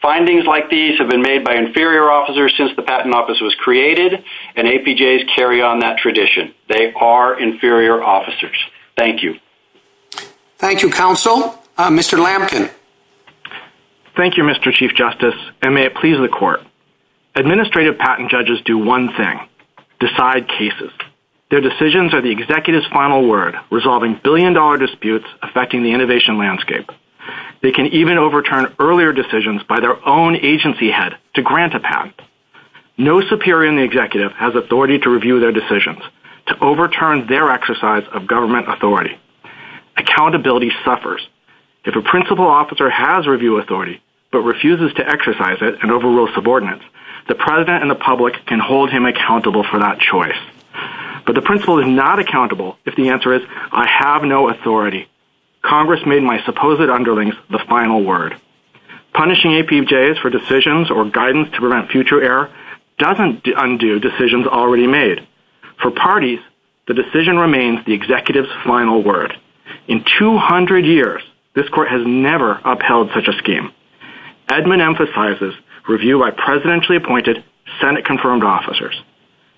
Findings like these have been made by inferior officers since the patent office was created, and APJs carry on that tradition. They are inferior officers. Thank you. Thank you, counsel. Mr. Lambkin. Thank you, Mr. Chief Justice, and may it please the court. Administrative patent judges do one thing, decide cases. Their decisions are the executive's final word, resolving billion-dollar disputes affecting the innovation landscape. They can even overturn earlier decisions by their own agency head to grant a patent. No superior in the executive has authority to review their decisions, to overturn their exercise of government authority. Accountability suffers. If a principal officer has review authority but refuses to exercise it and overrules subordinates, the president and the public can hold him accountable for that choice. But the principal is not accountable if the answer is, I have no authority. Congress made my supposed underlings the final word. Punishing APJs for decisions or guidance to prevent future error doesn't undo decisions already made. For parties, the decision remains the executive's final word. In 200 years, this court has never upheld such a scheme. Edmund emphasizes review by presidentially appointed Senate-confirmed officers.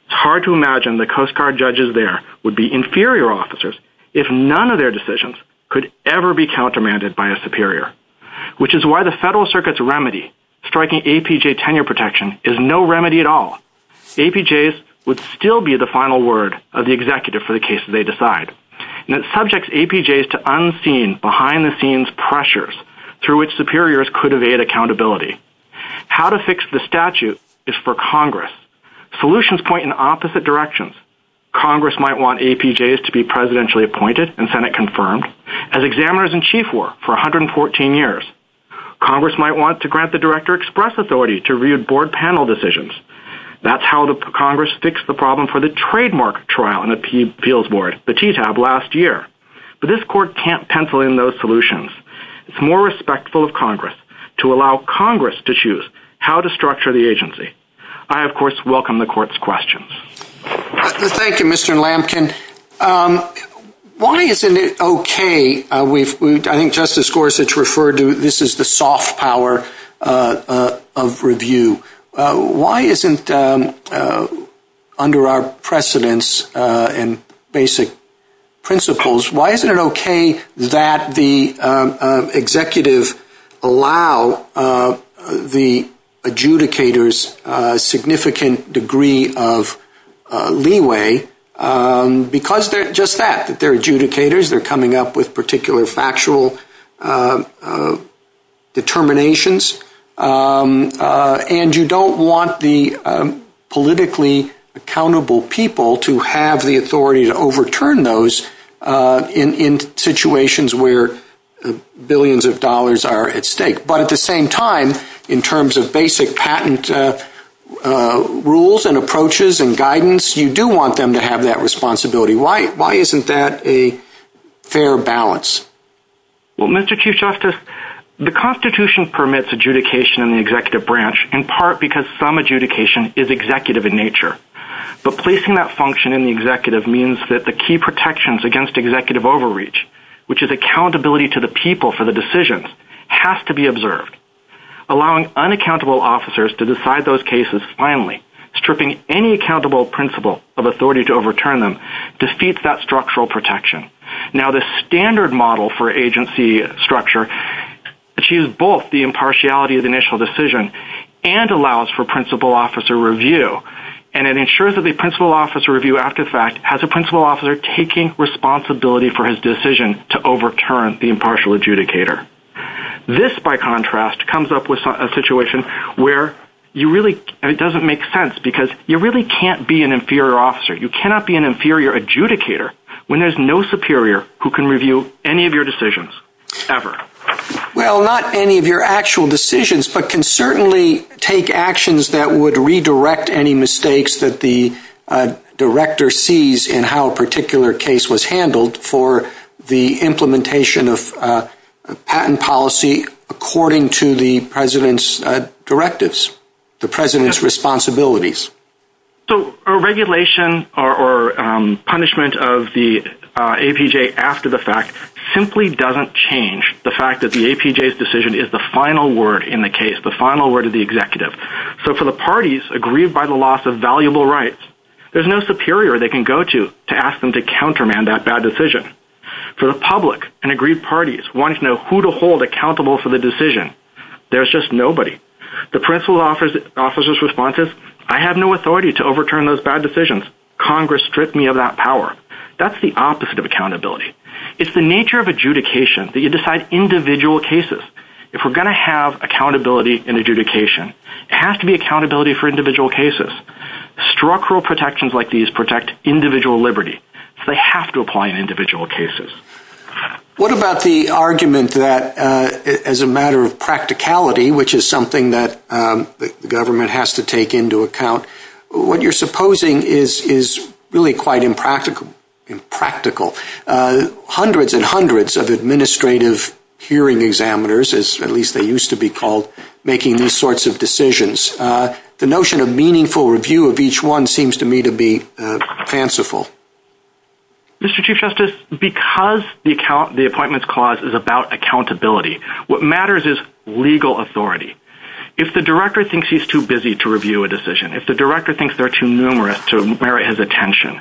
It's hard to imagine the Coast Guard judges there would be inferior officers if none of their decisions could ever be countermanded by a superior, which is why the Federal Circuit's remedy, striking APJ tenure protection, is no remedy at all. APJs would still be the final word of the executive for the cases they decide. It subjects APJs to unseen, behind-the-scenes pressures through which superiors could evade accountability. How to fix the statute is for Congress. Solutions point in opposite directions. Congress might want APJs to be presidentially appointed and Senate-confirmed as examiners in chief work for 114 years. Congress might want to grant the director express authority to review board panel decisions. That's how Congress fixed the problem for the trademark trial in the appeals board, the TTAB, last year. But this court can't pencil in those solutions. It's more respectful of Congress to allow Congress to choose how to structure the agency. I, of course, welcome the court's questions. Thank you, Mr. Lamkin. Why isn't it okay? I think Justice Gorsuch referred to this as the soft power of review. Why isn't, under our precedence and basic principles, why isn't it okay that the executive allow the adjudicators significant degree of leeway? Because they're adjudicators. They're coming up with particular factual determinations. And you don't want the politically accountable people to have the authority to overturn those in situations where billions of dollars are at stake. But at the same time, in terms of basic patent rules and approaches and guidance, you do want them to have that responsibility. Why isn't that a fair balance? Well, Mr. Chief Justice, the Constitution permits adjudication in the executive branch in part because some adjudication is executive in nature. But placing that function in the executive means that the key protections against executive overreach, which is accountability to the people for the decisions, has to be observed. Allowing unaccountable officers to decide those cases finally, stripping any accountable principle of authority to overturn them, defeats that structural protection. Now, the standard model for agency structure achieves both the impartiality of the initial decision and allows for principal officer review. And it ensures that the principal officer review, after the fact, has a principal officer taking responsibility for his decision to overturn the impartial adjudicator. This, by contrast, comes up with a situation where it doesn't make sense because you really can't be an inferior officer. You cannot be an inferior adjudicator when there's no superior who can review any of your decisions, ever. Well, not any of your actual decisions, but can certainly take actions that would redirect any mistakes that the director sees in how a particular case was handled for the implementation of patent policy according to the president's directives, the president's responsibilities. So, a regulation or punishment of the APJ after the fact simply doesn't change the fact that the APJ's decision is the final word in the case, the final word of the executive. So, for the parties aggrieved by the loss of valuable rights, there's no superior they can go to to ask them to countermand that bad decision. For the public and aggrieved parties wanting to know who to hold accountable for the decision, there's just nobody. The principal officer's response is, I have no authority to overturn those bad decisions. Congress stripped me of that power. That's the opposite of accountability. It's the nature of adjudication that you decide individual cases. If we're going to have accountability in adjudication, it has to be accountability for individual cases. Structural protections like these protect individual liberty. They have to apply in individual cases. What about the argument that as a matter of practicality, which is something that the government has to take into account, what you're supposing is really quite impractical. Hundreds and hundreds of administrative hearing examiners, as at least they used to be called, making these sorts of decisions. The notion of meaningful review of each one seems to me to be fanciful. Mr. Chief Justice, because the appointments clause is about accountability, what matters is legal authority. If the director thinks he's too busy to review a decision, if the director thinks they're too numerous to merit his attention,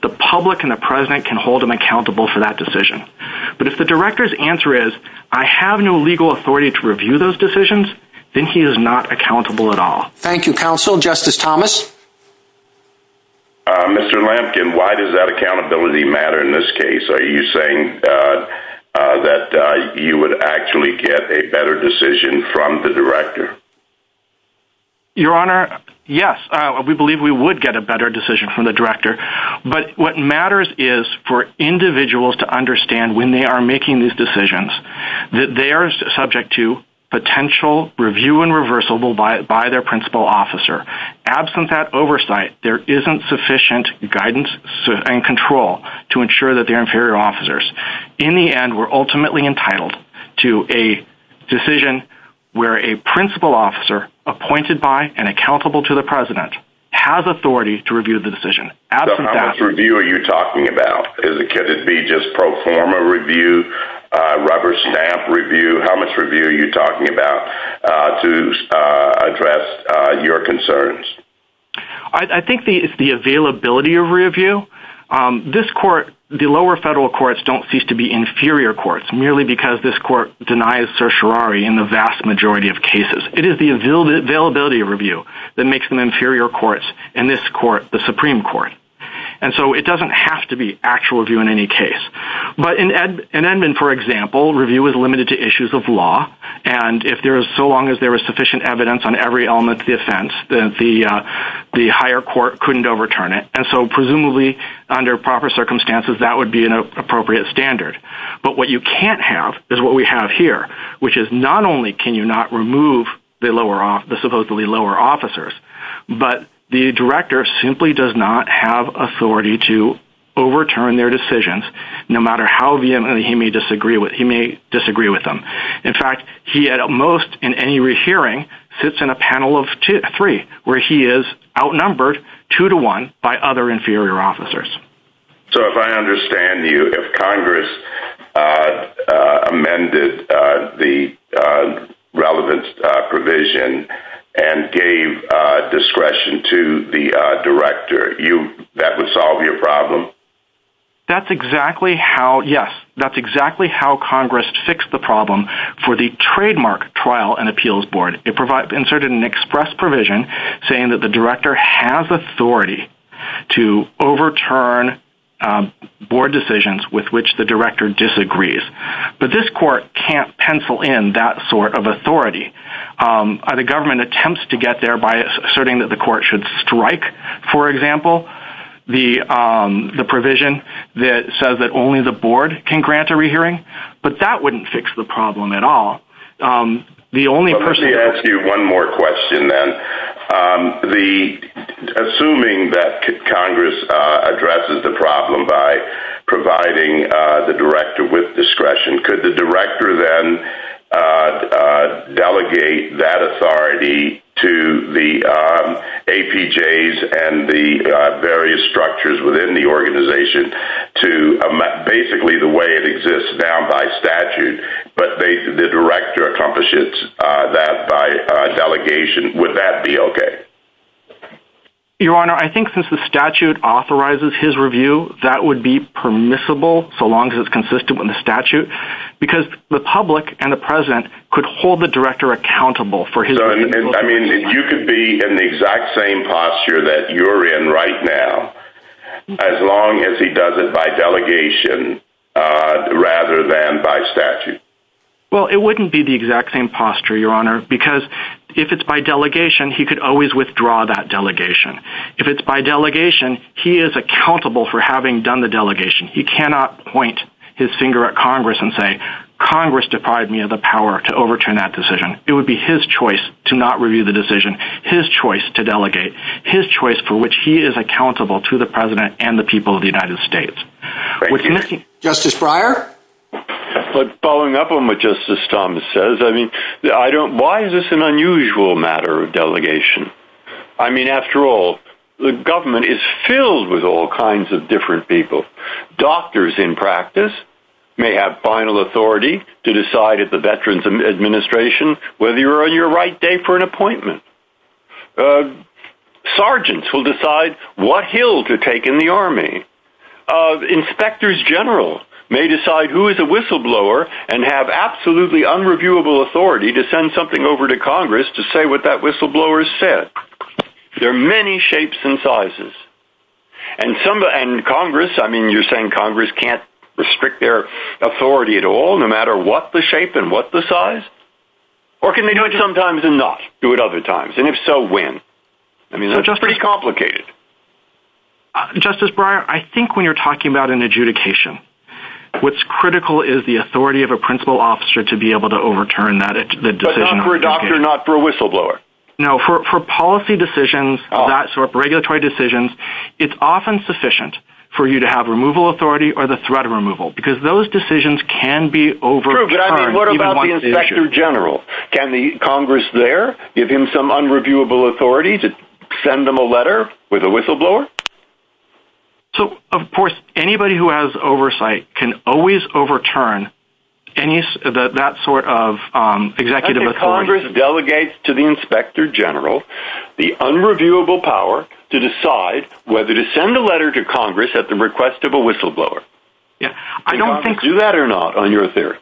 the public and the president can hold him accountable for that decision. But if the director's answer is, I have no legal authority to review those decisions, then he is not accountable at all. Thank you, counsel. Justice Thomas? Mr. Lampkin, why does that accountability matter in this case? Are you saying that you would actually get a better decision from the director? Your Honor, yes, we believe we would get a better decision from the director. But what matters is for individuals to understand when they are making these decisions that they are subject to potential review and reversal by their principal officer. Absent that oversight, there isn't sufficient guidance and control to ensure that they're inferior officers. In the end, we're ultimately entitled to a decision where a principal officer appointed by and accountable to the president has authority to review the decision. So how much review are you talking about? Could it be just pro forma review, rubber stamp review? How much review are you talking about to address your concerns? I think it's the availability of review. The lower federal courts don't cease to be inferior courts merely because this court denies certiorari in the vast majority of cases. It is the availability of review that makes them inferior courts in this court, the Supreme Court. And so it doesn't have to be actual review in any case. But in Edmond, for example, review is limited to issues of law. And so long as there is sufficient evidence on every element of the offense, the higher court couldn't overturn it. And so presumably, under proper circumstances, that would be an appropriate standard. But what you can't have is what we have here, which is not only can you not remove the supposedly lower officers, but the director simply does not have authority to overturn their decisions, no matter how vehemently he may disagree with them. In fact, he at most in any hearing sits in a panel of three, where he is outnumbered two to one by other inferior officers. So if I understand you, if Congress amended the relevant provision and gave discretion to the director, that would solve your problem? That's exactly how, yes, that's exactly how Congress fixed the problem for the trademark trial and appeals board. It inserted an express provision saying that the director has authority to overturn board decisions with which the director disagrees. But this court can't pencil in that sort of authority. The government attempts to get there by asserting that the court should strike, for example, the provision that says that only the board can grant a rehearing. But that wouldn't fix the problem at all. Let me ask you one more question then. Assuming that Congress addresses the problem by providing the director with discretion, could the director then delegate that authority to the APJs and the various structures within the organization to basically the way it exists now by statute, but the director accomplishes that by delegation, would that be okay? Your Honor, I think since the statute authorizes his review, that would be permissible so long as it's consistent with the statute, because the public and the president could hold the director accountable for his review. You could be in the exact same posture that you're in right now as long as he does it by delegation rather than by statute. Well, it wouldn't be the exact same posture, Your Honor, because if it's by delegation, he could always withdraw that delegation. If it's by delegation, he is accountable for having done the delegation. He cannot point his finger at Congress and say, Congress defied me of the power to overturn that decision. It would be his choice to not review the decision, his choice to delegate, his choice for which he is accountable to the president and the people of the United States. Justice Breyer? Following up on what Justice Thomas says, why is this an unusual matter of delegation? I mean, after all, the government is filled with all kinds of different people. Doctors in practice may have final authority to decide at the Veterans Administration whether you're on your right day for an appointment. Sergeants will decide what hill to take in the Army. Inspectors General may decide who is a whistleblower and have absolutely unreviewable authority to send something over to Congress to say what that whistleblower said. There are many shapes and sizes. And Congress, I mean, you're saying Congress can't restrict their authority at all, no matter what the shape and what the size? Or can they do it sometimes and not do it other times, and if so, when? I mean, it's pretty complicated. Justice Breyer, I think when you're talking about an adjudication, what's critical is the authority of a principal officer to be able to overturn the decision. But not for a doctor, not for a whistleblower. No, for policy decisions, that sort of regulatory decisions, it's often sufficient for you to have removal authority or the threat of removal, because those decisions can be overturned. True, but I mean, what about the Inspector General? Can Congress there give him some unreviewable authority to send him a letter with a whistleblower? So, of course, anybody who has oversight can always overturn that sort of executive authority. Congress delegates to the Inspector General the unreviewable power to decide whether to send a letter to Congress at the request of a whistleblower. Can Congress do that or not, on your theory?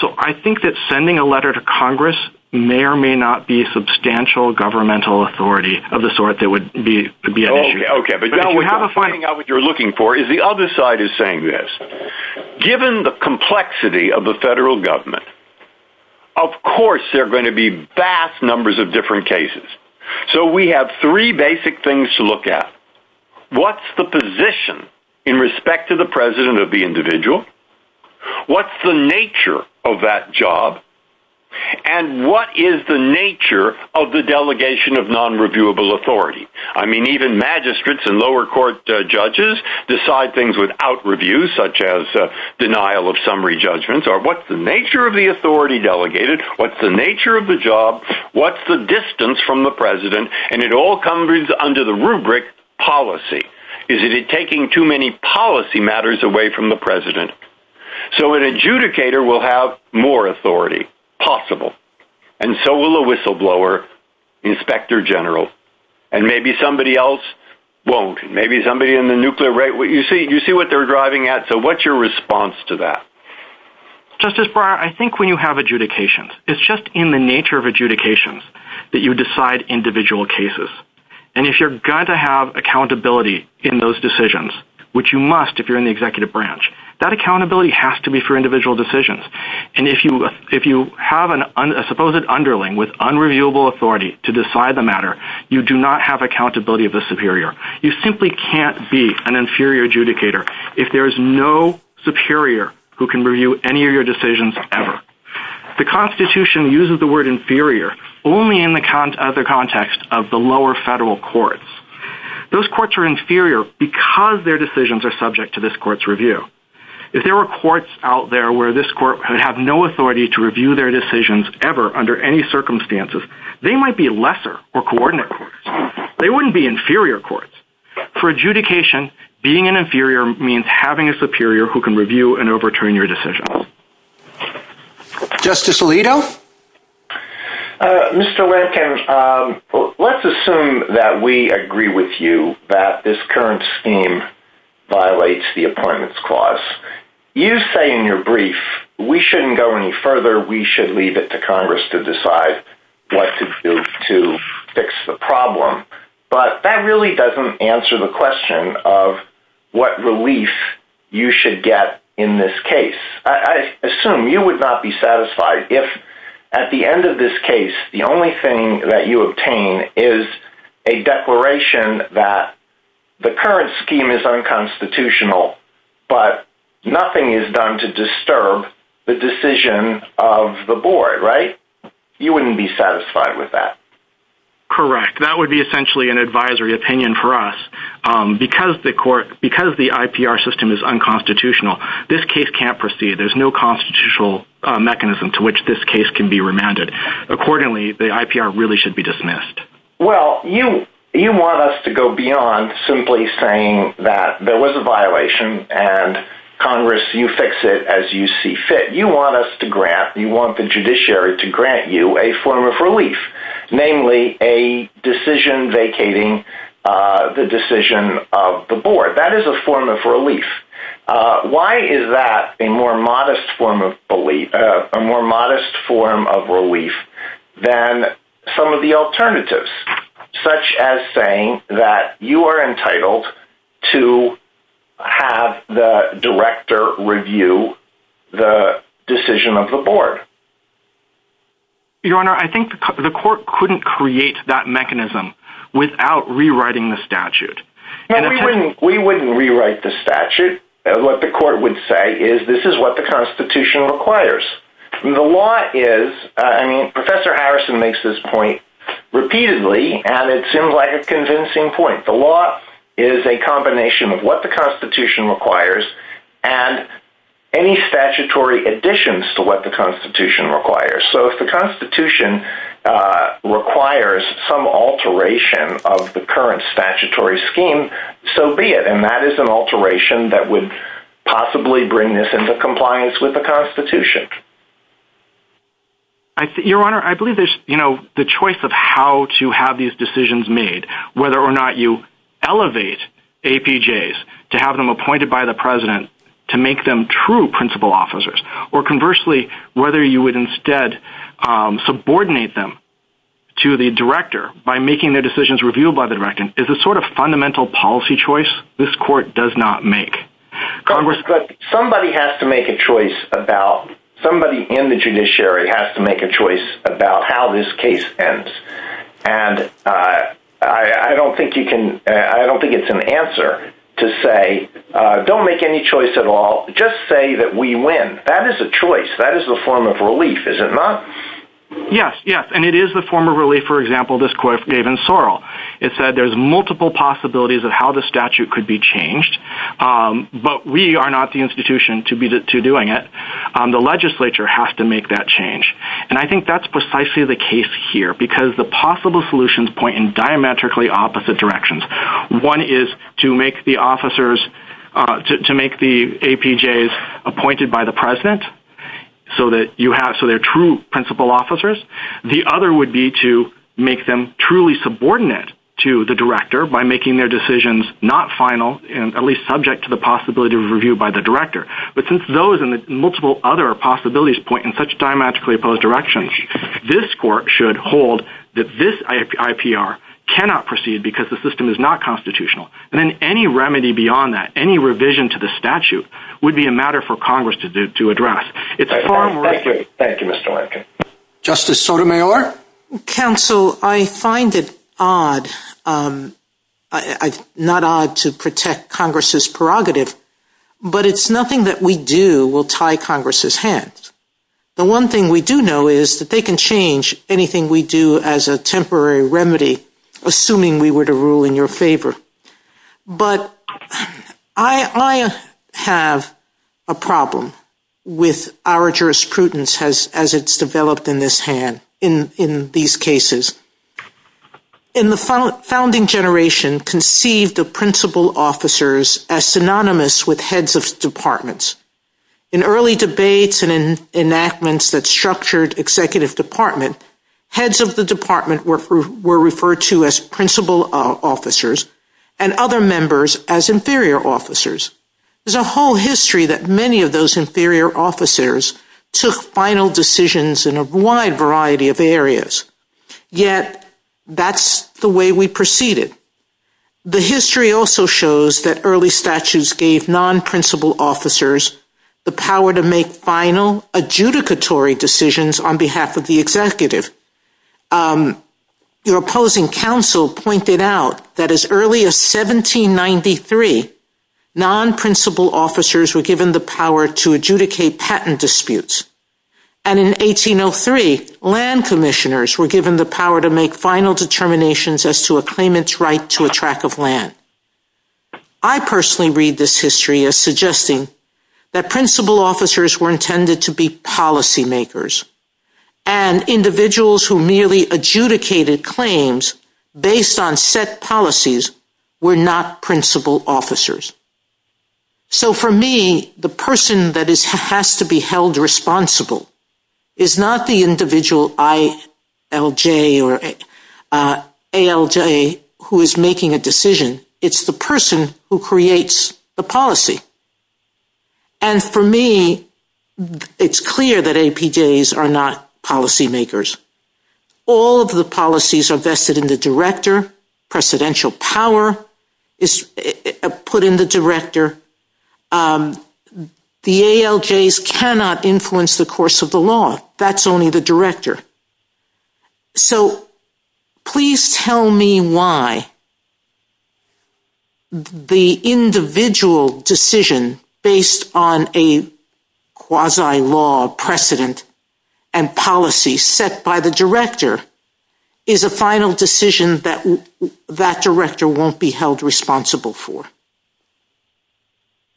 So, I think that sending a letter to Congress may or may not be substantial governmental authority of the sort that would be an issue. We have a finding out what you're looking for, is the other side is saying this. Given the complexity of the federal government, of course there are going to be vast numbers of different cases. So, we have three basic things to look at. What's the position in respect to the president of the individual? What's the nature of that job? And what is the nature of the delegation of nonreviewable authority? I mean, even magistrates and lower court judges decide things without review, such as denial of summary judgments. Or what's the nature of the authority delegated? What's the nature of the job? What's the distance from the president? And it all comes under the rubric policy. Is it taking too many policy matters away from the president? So, an adjudicator will have more authority, possible. And so will a whistleblower, Inspector General. And maybe somebody else won't. Maybe somebody in the nuclear rate, you see what they're driving at. So, what's your response to that? Justice Breyer, I think when you have adjudications, it's just in the nature of adjudications that you decide individual cases. And if you're going to have accountability in those decisions, which you must if you're in the executive branch, that accountability has to be for individual decisions. And if you have a supposed underling with unreviewable authority to decide the matter, you do not have accountability of the superior. You simply can't be an inferior adjudicator if there is no superior who can review any of your decisions ever. The Constitution uses the word inferior only in the context of the lower federal courts. Those courts are inferior because their decisions are subject to this court's review. If there were courts out there where this court would have no authority to review their decisions ever under any circumstances, they might be lesser or coordinate courts. They wouldn't be inferior courts. For adjudication, being an inferior means having a superior who can review and overturn your decision. Justice Alito? Mr. Rankin, let's assume that we agree with you that this current scheme violates the appointments clause. You say in your brief, we shouldn't go any further. We should leave it to Congress to decide what to do to fix the problem. But that really doesn't answer the question of what relief you should get in this case. I assume you would not be satisfied if at the end of this case, the only thing that you obtain is a declaration that the current scheme is unconstitutional, but nothing is done to disturb the decision of the board, right? You wouldn't be satisfied with that. Correct. That would be essentially an advisory opinion for us. Because the IPR system is unconstitutional, this case can't proceed. There's no constitutional mechanism to which this case can be remanded. Accordingly, the IPR really should be dismissed. Well, you want us to go beyond simply saying that there was a violation, and Congress, you fix it as you see fit. You want us to grant, you want the judiciary to grant you a form of relief, namely a decision vacating the decision of the board. That is a form of relief. Why is that a more modest form of relief than some of the alternatives, such as saying that you are entitled to have the director review the decision of the board? Your Honor, I think the court couldn't create that mechanism without rewriting the statute. We wouldn't rewrite the statute. What the court would say is this is what the Constitution requires. Professor Harrison makes this point repeatedly, and it seems like a convincing point. The law is a combination of what the Constitution requires and any statutory additions to what the Constitution requires. So if the Constitution requires some alteration of the current statutory scheme, so be it. And that is an alteration that would possibly bring this into compliance with the Constitution. Your Honor, I believe there's the choice of how to have these decisions made, whether or not you elevate APJs to have them appointed by the President to make them true principal officers, or conversely, whether you would instead subordinate them to the director by making their decisions reviewed by the director. It's a sort of fundamental policy choice this court does not make. Congress, somebody in the judiciary has to make a choice about how this case ends, and I don't think it's an answer to say don't make any choice at all. Just say that we win. That is a choice. That is a form of relief, is it not? Yes, yes, and it is a form of relief, for example, this court gave in Sorrell. It said there's multiple possibilities of how the statute could be changed, but we are not the institution to be doing it. The legislature has to make that change, and I think that's precisely the case here because the possible solutions point in diametrically opposite directions. One is to make the officers, to make the APJs appointed by the President so that you have, so they're true principal officers. The other would be to make them truly subordinate to the director by making their decisions not final and at least subject to the possibility of review by the director. But since those and the multiple other possibilities point in such diametrically opposed directions, this court should hold that this IPR cannot proceed because the system is not constitutional. And then any remedy beyond that, any revision to the statute, would be a matter for Congress to address. Thank you, thank you, Mr. Lankford. Justice Sotomayor? Mr. Counsel, I find it odd, not odd to protect Congress's prerogative, but it's nothing that we do will tie Congress's hands. The one thing we do know is that they can change anything we do as a temporary remedy, assuming we were to rule in your favor. But I have a problem with our jurisprudence as it's developed in this hand, in these cases. In the founding generation, conceived of principal officers as synonymous with heads of departments. In early debates and enactments that structured executive department, heads of the department were referred to as principal officers and other members as inferior officers. There's a whole history that many of those inferior officers took final decisions in a wide variety of areas. Yet, that's the way we proceeded. The history also shows that early statutes gave non-principal officers the power to make final adjudicatory decisions on behalf of the executive. Your opposing counsel pointed out that as early as 1793, non-principal officers were given the power to adjudicate patent disputes. And in 1803, land commissioners were given the power to make final determinations as to a claimant's right to a track of land. I personally read this history as suggesting that principal officers were intended to be policy makers. And individuals who merely adjudicated claims based on set policies were not principal officers. So for me, the person that has to be held responsible is not the individual ILJ or ALJ who is making a decision. It's the person who creates the policy. And for me, it's clear that APJs are not policy makers. All of the policies are vested in the director. Presidential power is put in the director. The ALJs cannot influence the course of the law. That's only the director. So please tell me why the individual decision based on a quasi-law precedent and policy set by the director is a final decision that that director won't be held responsible for.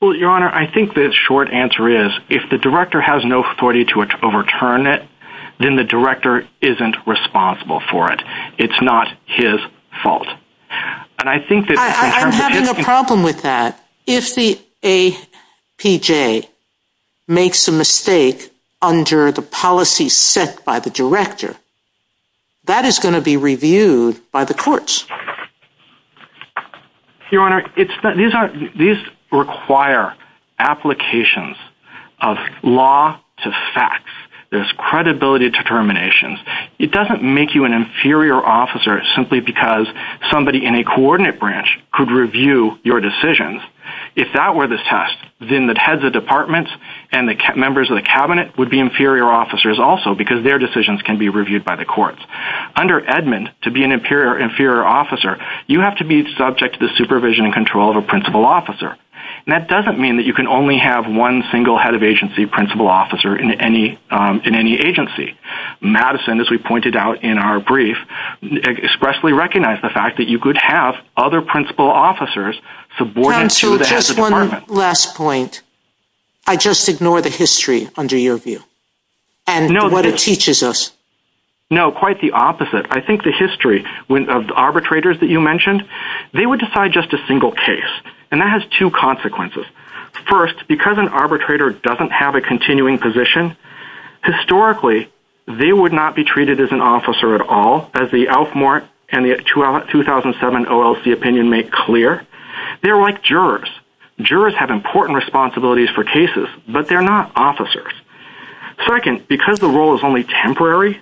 Well, Your Honor, I think the short answer is if the director has no authority to overturn it, then the director isn't responsible for it. It's not his fault. I'm having a problem with that. If the APJ makes a mistake under the policy set by the director, that is going to be reviewed by the courts. Your Honor, these require applications of law to facts. There's credibility determinations. It doesn't make you an inferior officer simply because somebody in a coordinate branch could review your decisions. If that were the test, then the heads of departments and the members of the cabinet would be inferior officers also because their decisions can be reviewed by the courts. Under Edmund, to be an inferior officer, you have to be subject to the supervision and control of a principal officer. That doesn't mean that you can only have one single head of agency principal officer in any agency. Madison, as we pointed out in our brief, expressly recognized the fact that you could have other principal officers subordinate to the heads of departments. Just one last point. I just ignore the history under your view and what it teaches us. No, quite the opposite. I think the history of the arbitrators that you mentioned, they would decide just a single case. That has two consequences. First, because an arbitrator doesn't have a continuing position, historically, they would not be treated as an officer at all, as the Alfmore and the 2007 OLC opinion make clear. They're like jurors. Jurors have important responsibilities for cases, but they're not officers. Second, because the role is only temporary,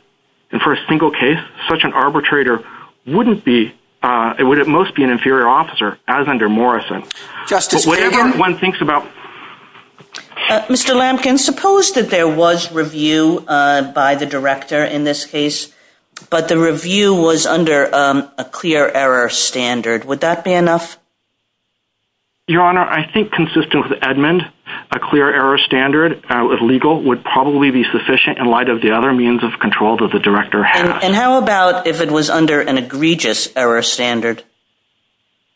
and for a single case, such an arbitrator wouldn't be, would at most be an inferior officer, as under Morrison. Mr. Lampkin, suppose that there was review by the director in this case, but the review was under a clear error standard. Would that be enough? Your Honor, I think consistent with Edmund, a clear error standard, legal, would probably be sufficient in light of the other means of control that the director has. And how about if it was under an egregious error standard?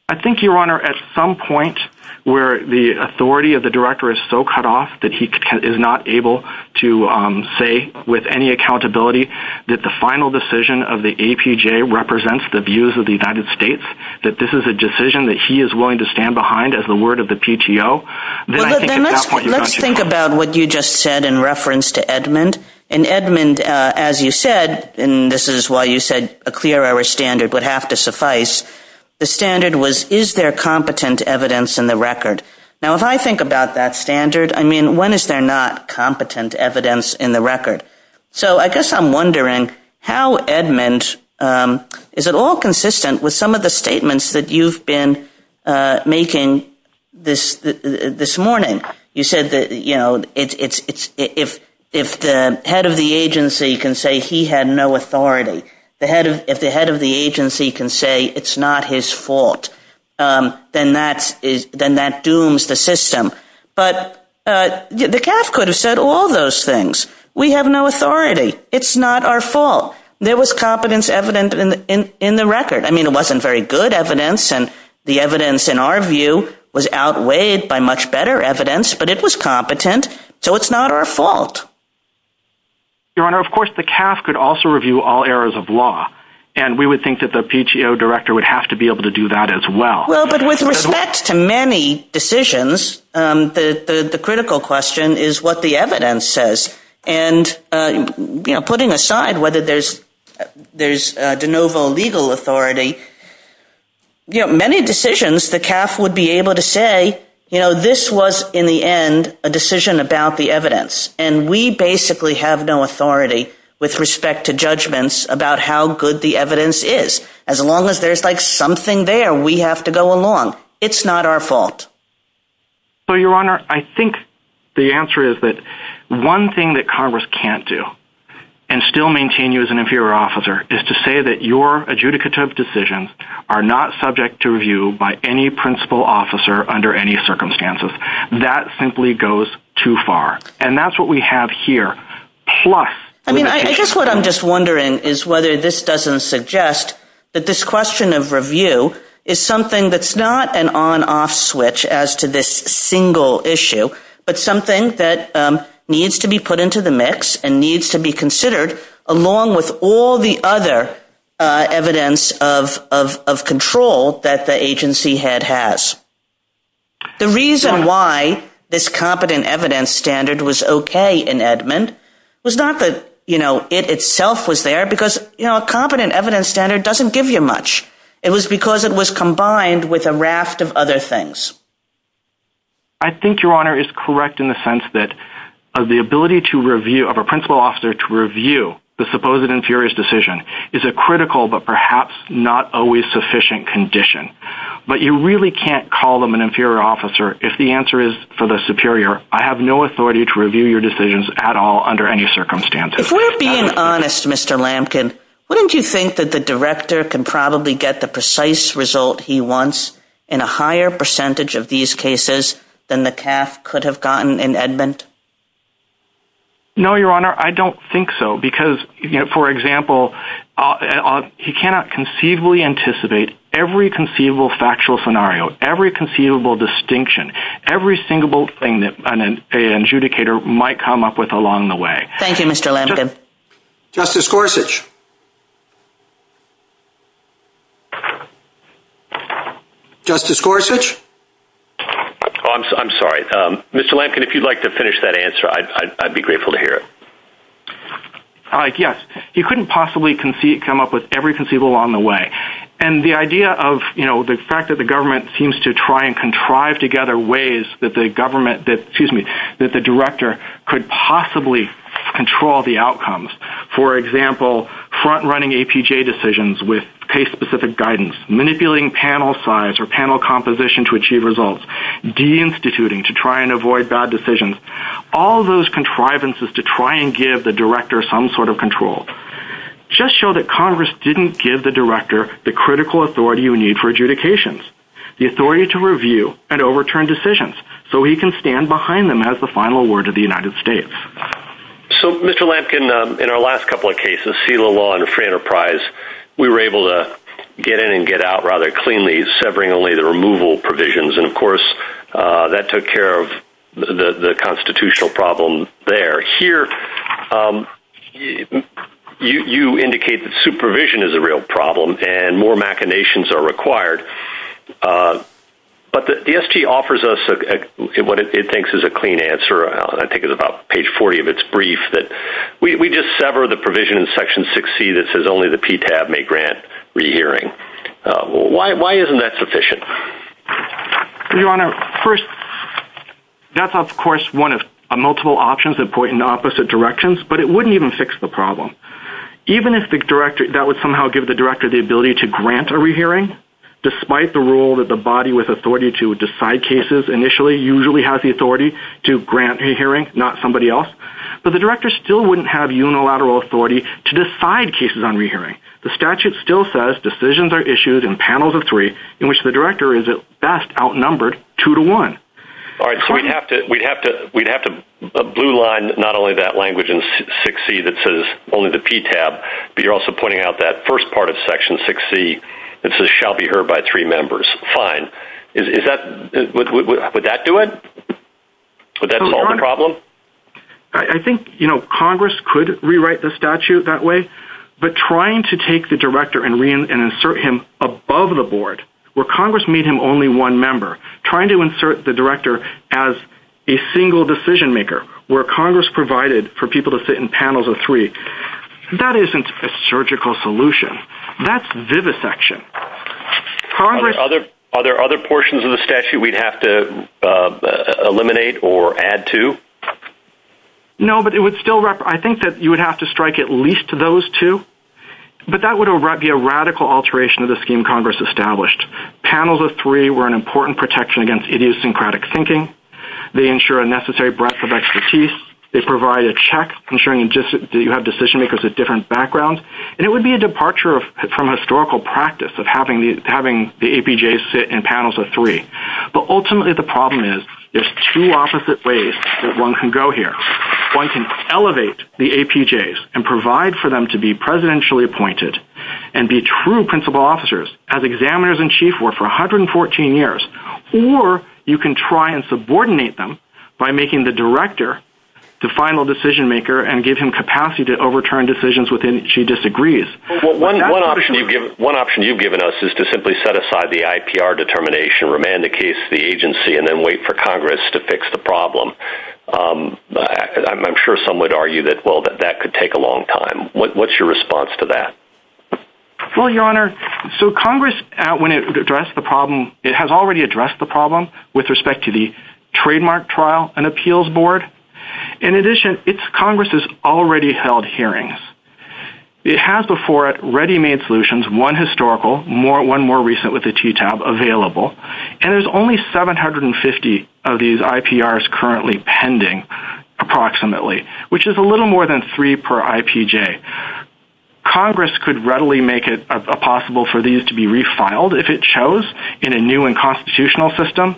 I think, Your Honor, at some point where the authority of the director is so cut off that he is not able to say with any accountability that the final decision of the APJ represents the views of the United States, that this is a decision that he is willing to stand behind as the word of the PTO, then I think at that point... Let's think about what you just said in reference to Edmund. In Edmund, as you said, and this is why you said a clear error standard would have to suffice, the standard was, is there competent evidence in the record? Now, if I think about that standard, I mean, when is there not competent evidence in the record? So I guess I'm wondering how Edmund, is it all consistent with some of the statements that you've been making this morning? You said that, you know, if the head of the agency can say he had no authority, if the head of the agency can say it's not his fault, then that dooms the system. But the CAF could have said all those things. We have no authority. It's not our fault. There was competence evidence in the record. I mean, it wasn't very good evidence, and the evidence in our view was outweighed by much better evidence, but it was competent, so it's not our fault. Your Honor, of course, the CAF could also review all errors of law, and we would think that the PTO director would have to be able to do that as well. Well, but with respect to many decisions, the critical question is what the evidence says. And, you know, putting aside whether there's de novo legal authority, you know, many decisions the CAF would be able to say, you know, this was in the end a decision about the evidence, and we basically have no authority with respect to judgments about how good the evidence is. As long as there's, like, something there, we have to go along. It's not our fault. Well, Your Honor, I think the answer is that one thing that Congress can't do and still maintain you as an inferior officer is to say that your adjudicative decisions are not subject to review by any principal officer under any circumstances. That simply goes too far, and that's what we have here. I mean, I guess what I'm just wondering is whether this doesn't suggest that this question of review is something that's not an on-off switch as to this single issue, but something that needs to be put into the mix and needs to be considered along with all the other evidence of control that the agency head has. The reason why this competent evidence standard was okay in Edmund was not that, you know, it itself was there, because, you know, a competent evidence standard doesn't give you much. It was because it was combined with a raft of other things. I think, Your Honor, it's correct in the sense that the ability of a principal officer to review the supposed inferior's decision is a critical but perhaps not always sufficient condition. But you really can't call them an inferior officer if the answer is for the superior, I have no authority to review your decisions at all under any circumstances. If we're being honest, Mr. Lampkin, wouldn't you think that the director can probably get the precise result he wants in a higher percentage of these cases than the TAF could have gotten in Edmund? No, Your Honor, I don't think so, because, you know, for example, he cannot conceivably anticipate every conceivable factual scenario, every conceivable distinction, every single thing that an adjudicator might come up with along the way. Thank you, Mr. Lampkin. Justice Gorsuch? Justice Gorsuch? I'm sorry. Mr. Lampkin, if you'd like to finish that answer, I'd be grateful to hear it. Yes, you couldn't possibly come up with every conceivable along the way. And the idea of, you know, the fact that the government seems to try and contrive together ways that the director could possibly control the outcomes. For example, front-running APJ decisions with case-specific guidance, manipulating panel size or panel composition to achieve results, de-instituting to try and avoid bad decisions. All those contrivances to try and give the director some sort of control just show that Congress didn't give the director the critical authority you need for adjudications, the authority to review and overturn decisions so he can stand behind them as the final word of the United States. So, Mr. Lampkin, in our last couple of cases, seal of law and free enterprise, we were able to get in and get out rather cleanly, severing only the removal provisions. And, of course, that took care of the constitutional problem there. Here, you indicate that supervision is a real problem and more machinations are required. But the SG offers us what it thinks is a clean answer. I think it's about page 40 of its brief that we just sever the provision in section 6C that says only the PTAB may grant rehearing. Why isn't that sufficient? Your Honor, first, that's, of course, one of multiple options that point in opposite directions, but it wouldn't even fix the problem. Even if that would somehow give the director the ability to grant a rehearing, despite the rule that the body with authority to decide cases initially usually has the authority to grant a hearing, not somebody else, but the director still wouldn't have unilateral authority to decide cases on rehearing. The statute still says decisions are issued in panels of three in which the director is at best outnumbered two to one. All right, so we'd have to blue line not only that language in 6C that says only the PTAB, but you're also pointing out that first part of section 6C that says shall be heard by three members. Fine. Would that do it? Would that solve the problem? I think, you know, Congress could rewrite the statute that way. But trying to take the director and insert him above the board where Congress made him only one member, trying to insert the director as a single decision maker where Congress provided for people to sit in panels of three, that isn't a surgical solution. That's vivisection. Are there other portions of the statute we'd have to eliminate or add to? No, but it would still, I think that you would have to strike at least those two. But that would be a radical alteration of the scheme Congress established. Panels of three were an important protection against idiosyncratic thinking. They ensure a necessary breadth of expertise. They provide a check ensuring that you have decision makers of different backgrounds. And it would be a departure from historical practice of having the APJs sit in panels of three. But ultimately the problem is there's two opposite ways that one can go here. One can elevate the APJs and provide for them to be presidentially appointed and be true principal officers as examiners-in-chief for 114 years. Or you can try and subordinate them by making the director the final decision maker and give him capacity to overturn decisions within which he disagrees. One option you've given us is to simply set aside the IPR determination, remand the case to the agency, and then wait for Congress to fix the problem. I'm sure some would argue that, well, that could take a long time. What's your response to that? Well, Your Honor, so Congress, when it addressed the problem, it has already addressed the problem with respect to the trademark trial and appeals board. In addition, Congress has already held hearings. It has before it ready-made solutions, one historical, one more recent with a TTAB available. And there's only 750 of these IPRs currently pending approximately, which is a little more than three per IPJ. Congress could readily make it possible for these to be refiled if it chose in a new and constitutional system.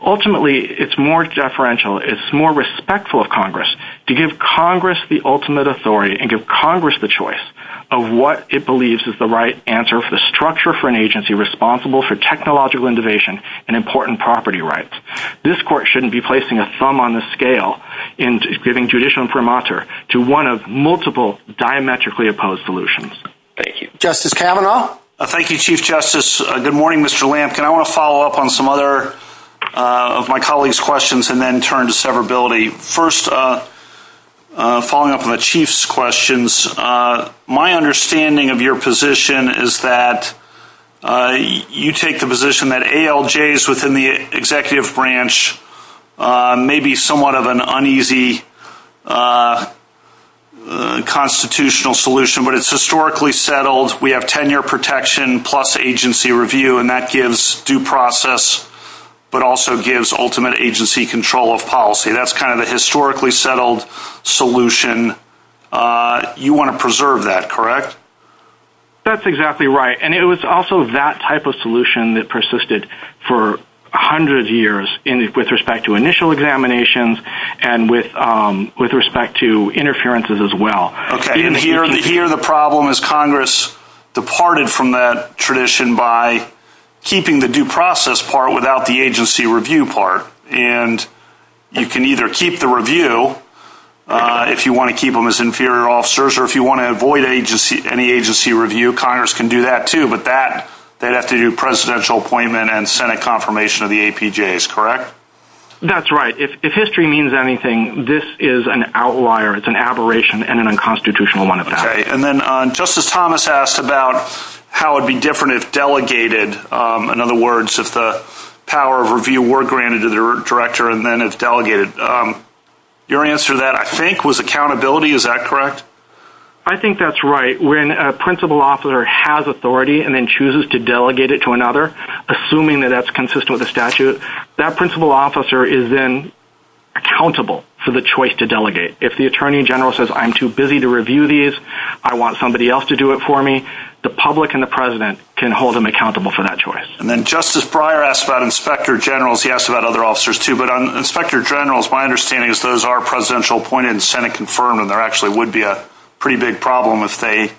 Ultimately, it's more deferential. It's more respectful of Congress to give Congress the ultimate authority and give Congress the choice of what it believes is the right answer for the structure for an agency responsible for technological innovation and important property rights. This court shouldn't be placing a thumb on the scale in giving judicial imprimatur to one of multiple diametrically opposed solutions. Thank you. Justice Kavanaugh? Thank you, Chief Justice. Good morning, Mr. Lampkin. I want to follow up on some other of my colleagues' questions and then turn to severability. First, following up on the Chief's questions, my understanding of your position is that you take the position that ALJs within the executive branch may be somewhat of an uneasy constitutional solution, but it's historically settled. We have tenure protection plus agency review, and that gives due process but also gives ultimate agency control of policy. That's kind of a historically settled solution. You want to preserve that, correct? That's exactly right, and it was also that type of solution that persisted for hundreds of years with respect to initial examinations and with respect to interferences as well. And here the problem is Congress departed from that tradition by keeping the due process part without the agency review part. And you can either keep the review if you want to keep them as inferior officers or if you want to avoid any agency review, Congress can do that too, but that, they'd have to do presidential appointment and Senate confirmation of the APJs, correct? That's right. If history means anything, this is an outlier. It's an aberration and an unconstitutional one at that. Okay, and then Justice Thomas asked about how it would be different if delegated, in other words, if the power of review were granted to the director and then it's delegated. Your answer to that, I think, was accountability. Is that correct? I think that's right. When a principal officer has authority and then chooses to delegate it to another, assuming that that's consistent with the statute, that principal officer is then accountable for the choice to delegate. If the attorney general says, I'm too busy to review these, I want somebody else to do it for me, the public and the president can hold them accountable for that choice. And then Justice Breyer asked about inspector generals. He asked about other officers too, but on inspector generals, my understanding is those are presidential appointed and Senate confirmed and there actually would be a pretty big problem if they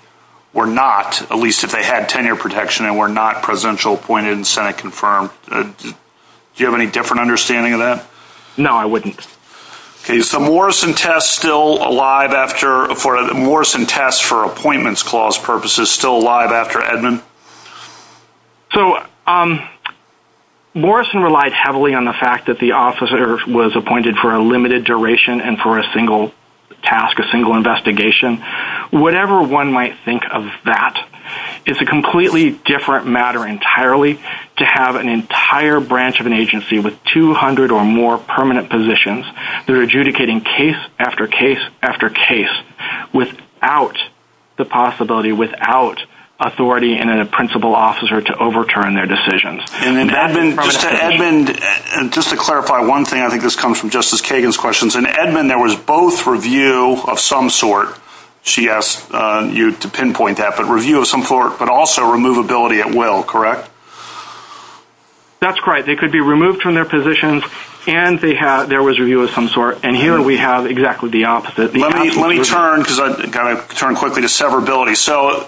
were not, at least if they had tenure protection and were not presidential appointed and Senate confirmed. Do you have any different understanding of that? No, I wouldn't. Okay, is the Morrison test still alive after, the Morrison test for appointments clause purposes still alive after Edmund? So, Morrison relied heavily on the fact that the officer was appointed for a limited duration and for a single task, a single investigation. Whatever one might think of that, it's a completely different matter entirely to have an entire branch of an agency with 200 or more permanent positions that are adjudicating case after case after case without the possibility, without authority and a principal officer to overturn their decisions. Edmund, just to clarify one thing, I think this comes from Justice Kagan's questions. In Edmund, there was both review of some sort, she asked you to pinpoint that, but review of some sort, but also removability at will, correct? That's right. They could be removed from their positions and there was review of some sort. And here we have exactly the opposite. Let me turn, because I've got to turn quickly to severability. So,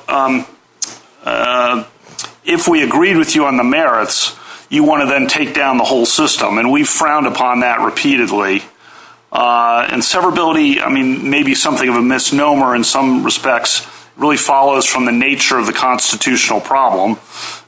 if we agreed with you on the merits, you want to then take down the whole system, and we frowned upon that repeatedly. And severability, I mean, maybe something of a misnomer in some respects, really follows from the nature of the constitutional problem.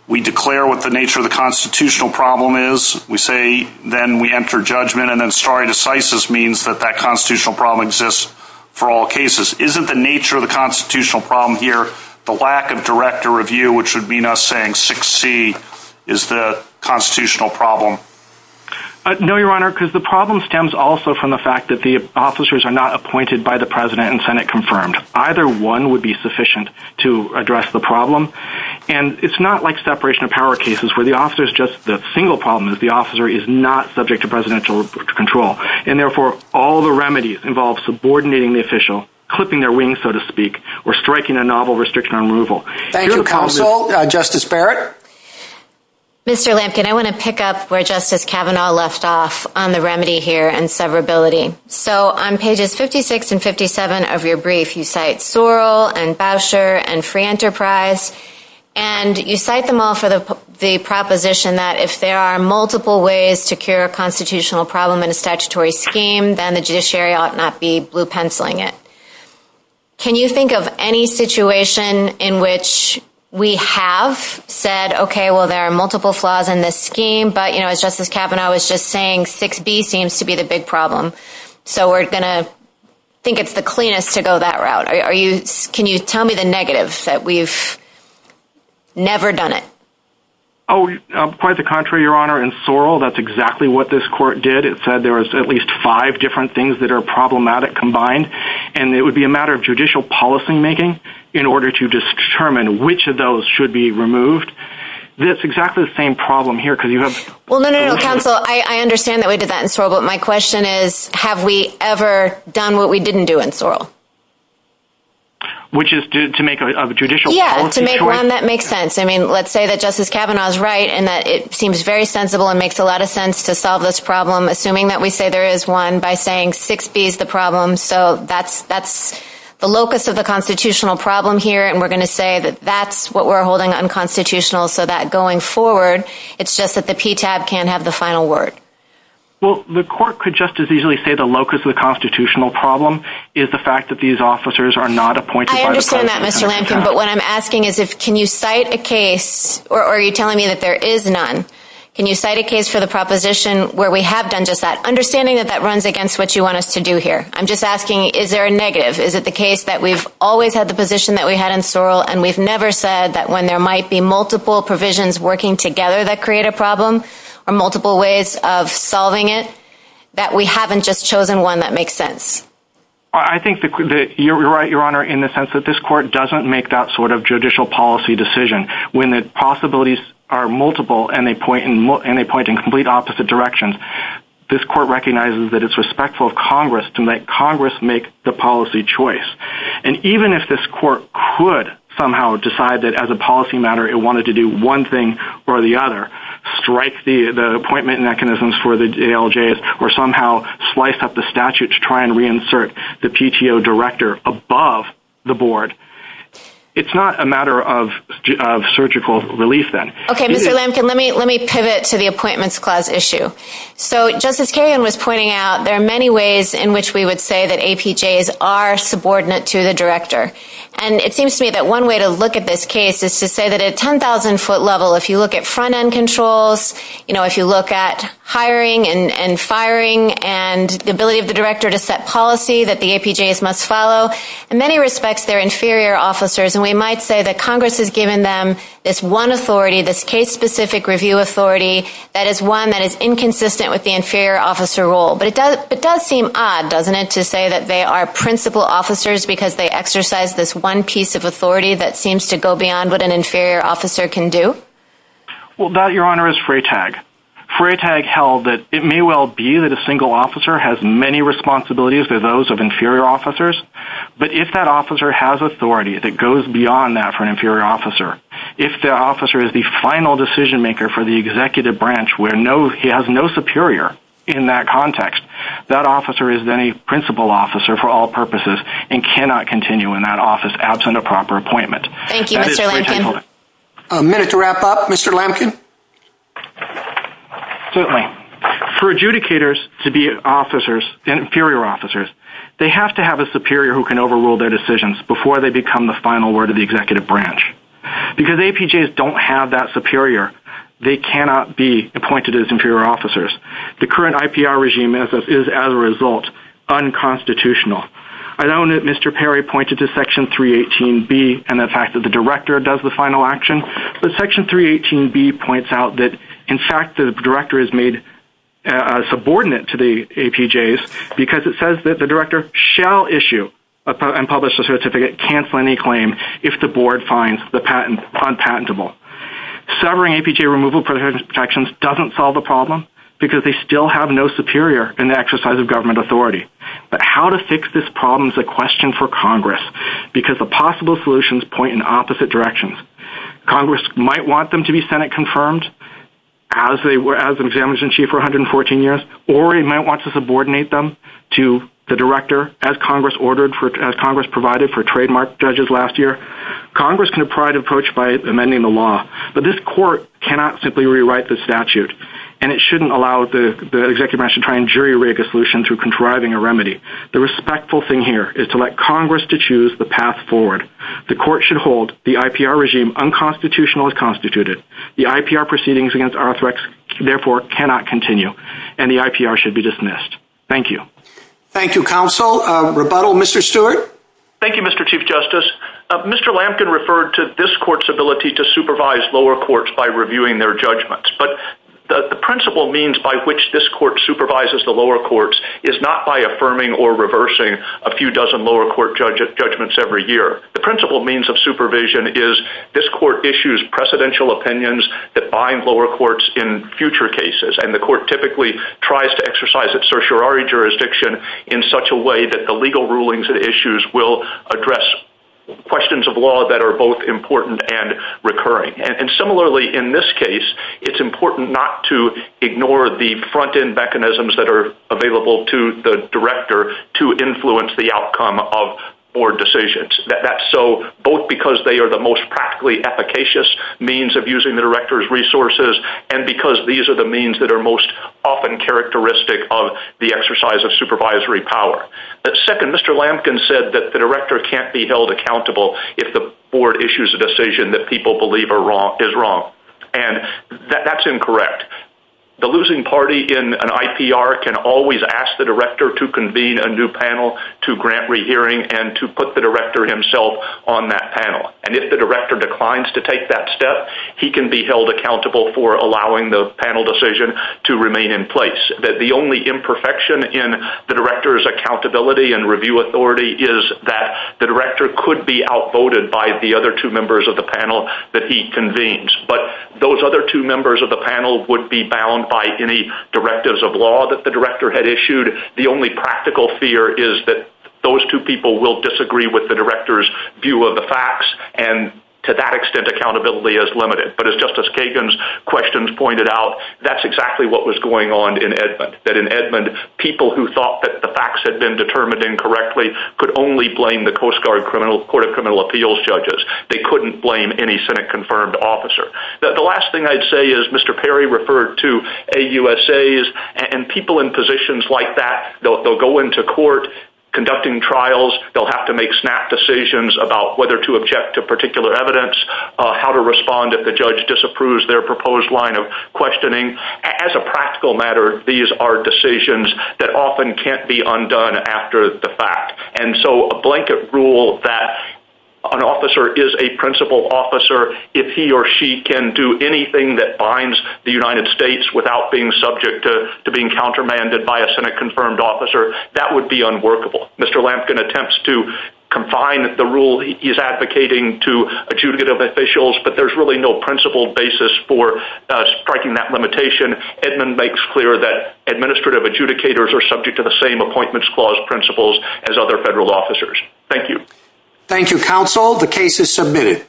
We declare what the nature of the constitutional problem is. We say, then we enter judgment, and then stare decisis means that that constitutional problem exists for all cases. Isn't the nature of the constitutional problem here the lack of direct or review, which would mean us saying 6C is the constitutional problem? No, Your Honor, because the problem stems also from the fact that the officers are not appointed by the President and Senate confirmed. Either one would be sufficient to address the problem. And it's not like separation of power cases where the officer is just the single problem. The officer is not subject to presidential control. And, therefore, all the remedies involve subordinating the official, clipping their wings, so to speak, or striking a novel restriction on removal. Thank you, counsel. Justice Barrett? Mr. Lampkin, I want to pick up where Justice Kavanaugh left off on the remedy here and severability. So, on pages 56 and 57 of your brief, you cite Sewell and Bauscher and Free Enterprise. And you cite them all for the proposition that if there are multiple ways to cure a constitutional problem in a statutory scheme, then the judiciary ought not be blue-penciling it. Can you think of any situation in which we have said, okay, well, there are multiple flaws in this scheme, but, you know, as Justice Kavanaugh was just saying, 6B seems to be the big problem. So, we're going to think it's the cleanest to go that route. Can you tell me the negatives that we've never done it? Oh, quite the contrary, Your Honor. In Sewell, that's exactly what this court did. It said there was at least five different things that are problematic combined. And it would be a matter of judicial policymaking in order to determine which of those should be removed. It's exactly the same problem here because you have… Well, no, no, no, counsel. I understand that we did that in Sewell. But my question is, have we ever done what we didn't do in Sewell? Which is to make a judicial policy choice? Yes, to make one that makes sense. I mean, let's say that Justice Kavanaugh is right and that it seems very sensible and makes a lot of sense to solve this problem, assuming that we say there is one, by saying 6B is the problem. So, that's the locus of the constitutional problem here. And we're going to say that that's what we're holding unconstitutional so that going forward, it's just that the PTAB can't have the final word. Well, the court could just as easily say the locus of the constitutional problem is the fact that these officers are not appointed by the… I understand that, Mr. Lansing. But what I'm asking is, can you cite a case, or are you telling me that there is none? Can you cite a case for the proposition where we have done just that? Understanding that that runs against what you want us to do here. I'm just asking, is there a negative? Is it the case that we've always had the position that we had in Sewell and we've never said that when there might be multiple provisions working together that create a problem or multiple ways of solving it, that we haven't just chosen one that makes sense? I think that you're right, Your Honor, in the sense that this court doesn't make that sort of judicial policy decision. When the possibilities are multiple and they point in complete opposite directions, this court recognizes that it's respectful of Congress to make Congress make the policy choice. And even if this court could somehow decide that as a policy matter it wanted to do one thing or the other, strike the appointment mechanisms for the ALJs, or somehow slice up the statute to try and reinsert the PTO director above the board, it's not a matter of surgical relief then. Okay, Mr. Lansing, let me pivot to the appointments clause issue. So Justice Kerrigan was pointing out there are many ways in which we would say that APJs are subordinate to the director. And it seems to me that one way to look at this case is to say that at a 10,000-foot level, if you look at front-end controls, if you look at hiring and firing and the ability of the director to set policy that the APJs must follow, in many respects they're inferior officers. And we might say that Congress has given them this one authority, this case-specific review authority, that is one that is inconsistent with the inferior officer role. But it does seem odd, doesn't it, to say that they are principal officers because they exercise this one piece of authority that seems to go beyond what an inferior officer can do? Well, that, Your Honor, is fray tag. Fray tag held that it may well be that a single officer has many responsibilities for those of inferior officers, but if that officer has authority that goes beyond that for an inferior officer, if the officer is the final decision-maker for the executive branch where he has no superior in that context, that officer is then a principal officer for all purposes and cannot continue in that office absent a proper appointment. Thank you, Mr. Lampkin. A minute to wrap up, Mr. Lampkin. Certainly. For adjudicators to be officers, inferior officers, they have to have a superior who can overrule their decisions before they become the final word of the executive branch. Because APJs don't have that superior, they cannot be appointed as inferior officers. The current IPR regime is, as a result, unconstitutional. I know that Mr. Perry pointed to Section 318B and the fact that the director does the final action, but Section 318B points out that, in fact, the director is made subordinate to the APJs because it says that the director shall issue and publish a certificate, cancel any claim, if the board finds the patent unpatentable. Severing APJ removal protections doesn't solve the problem because they still have no superior in the exercise of government authority. But how to fix this problem is a question for Congress because the possible solutions point in opposite directions. Congress might want them to be Senate-confirmed as an examiner-in-chief for 114 years, or it might want to subordinate them to the director, as Congress provided for trademark judges last year. Congress can provide an approach by amending the law, but this court cannot simply rewrite the statute, and it shouldn't allow the executive branch to try and jury-rig a solution through contriving a remedy. The respectful thing here is to let Congress to choose the path forward. The court should hold the IPR regime unconstitutional as constituted. The IPR proceedings against RTHREX, therefore, cannot continue, and the IPR should be dismissed. Thank you. Thank you, counsel. Rebuttal, Mr. Stewart? Thank you, Mr. Chief Justice. Mr. Lampkin referred to this court's ability to supervise lower courts by reviewing their judgments, but the principle means by which this court supervises the lower courts is not by affirming or reversing a few dozen lower court judgments every year. The principle means of supervision is this court issues precedential opinions that bind lower courts in future cases, and the court typically tries to exercise its certiorari jurisdiction in such a way that the legal rulings it issues will address questions of law that are both important and recurring. And similarly, in this case, it's important not to ignore the front-end mechanisms that are available to the director to influence the outcome of board decisions, both because they are the most practically efficacious means of using the director's resources and because these are the means that are most often characteristic of the exercise of supervisory power. Second, Mr. Lampkin said that the director can't be held accountable if the board issues a decision that people believe is wrong, and that's incorrect. The losing party in an IPR can always ask the director to convene a new panel to grant rehearing and to put the director himself on that panel, and if the director declines to take that step, he can be held accountable for allowing the panel decision to remain in place. The only imperfection in the director's accountability and review authority is that the director could be outvoted by the other two members of the panel that he convenes, but those other two members of the panel wouldn't be bound by any directives of law that the director had issued. The only practical fear is that those two people will disagree with the director's view of the facts, and to that extent, accountability is limited. But as Justice Kagan's questions pointed out, that's exactly what was going on in Edmond, that in Edmond, people who thought that the facts had been determined incorrectly could only blame the Coast Guard Court of Criminal Appeals judges. They couldn't blame any Senate-confirmed officer. The last thing I'd say is Mr. Perry referred to AUSAs and people in positions like that. They'll go into court conducting trials. They'll have to make snap decisions about whether to object to particular evidence, how to respond if the judge disapproves their proposed line of questioning. As a practical matter, these are decisions that often can't be undone after the fact, and so a blanket rule that an officer is a principled officer if he or she can do anything that binds the United States without being subject to being countermanded by a Senate-confirmed officer, that would be unworkable. Mr. Lampkin attempts to confine the rule he's advocating to adjudicative officials, but there's really no principled basis for striking that limitation. Edmond makes clear that administrative adjudicators are subject to the same Appointments Clause principles as other federal officers. Thank you. Thank you, counsel. The case is submitted.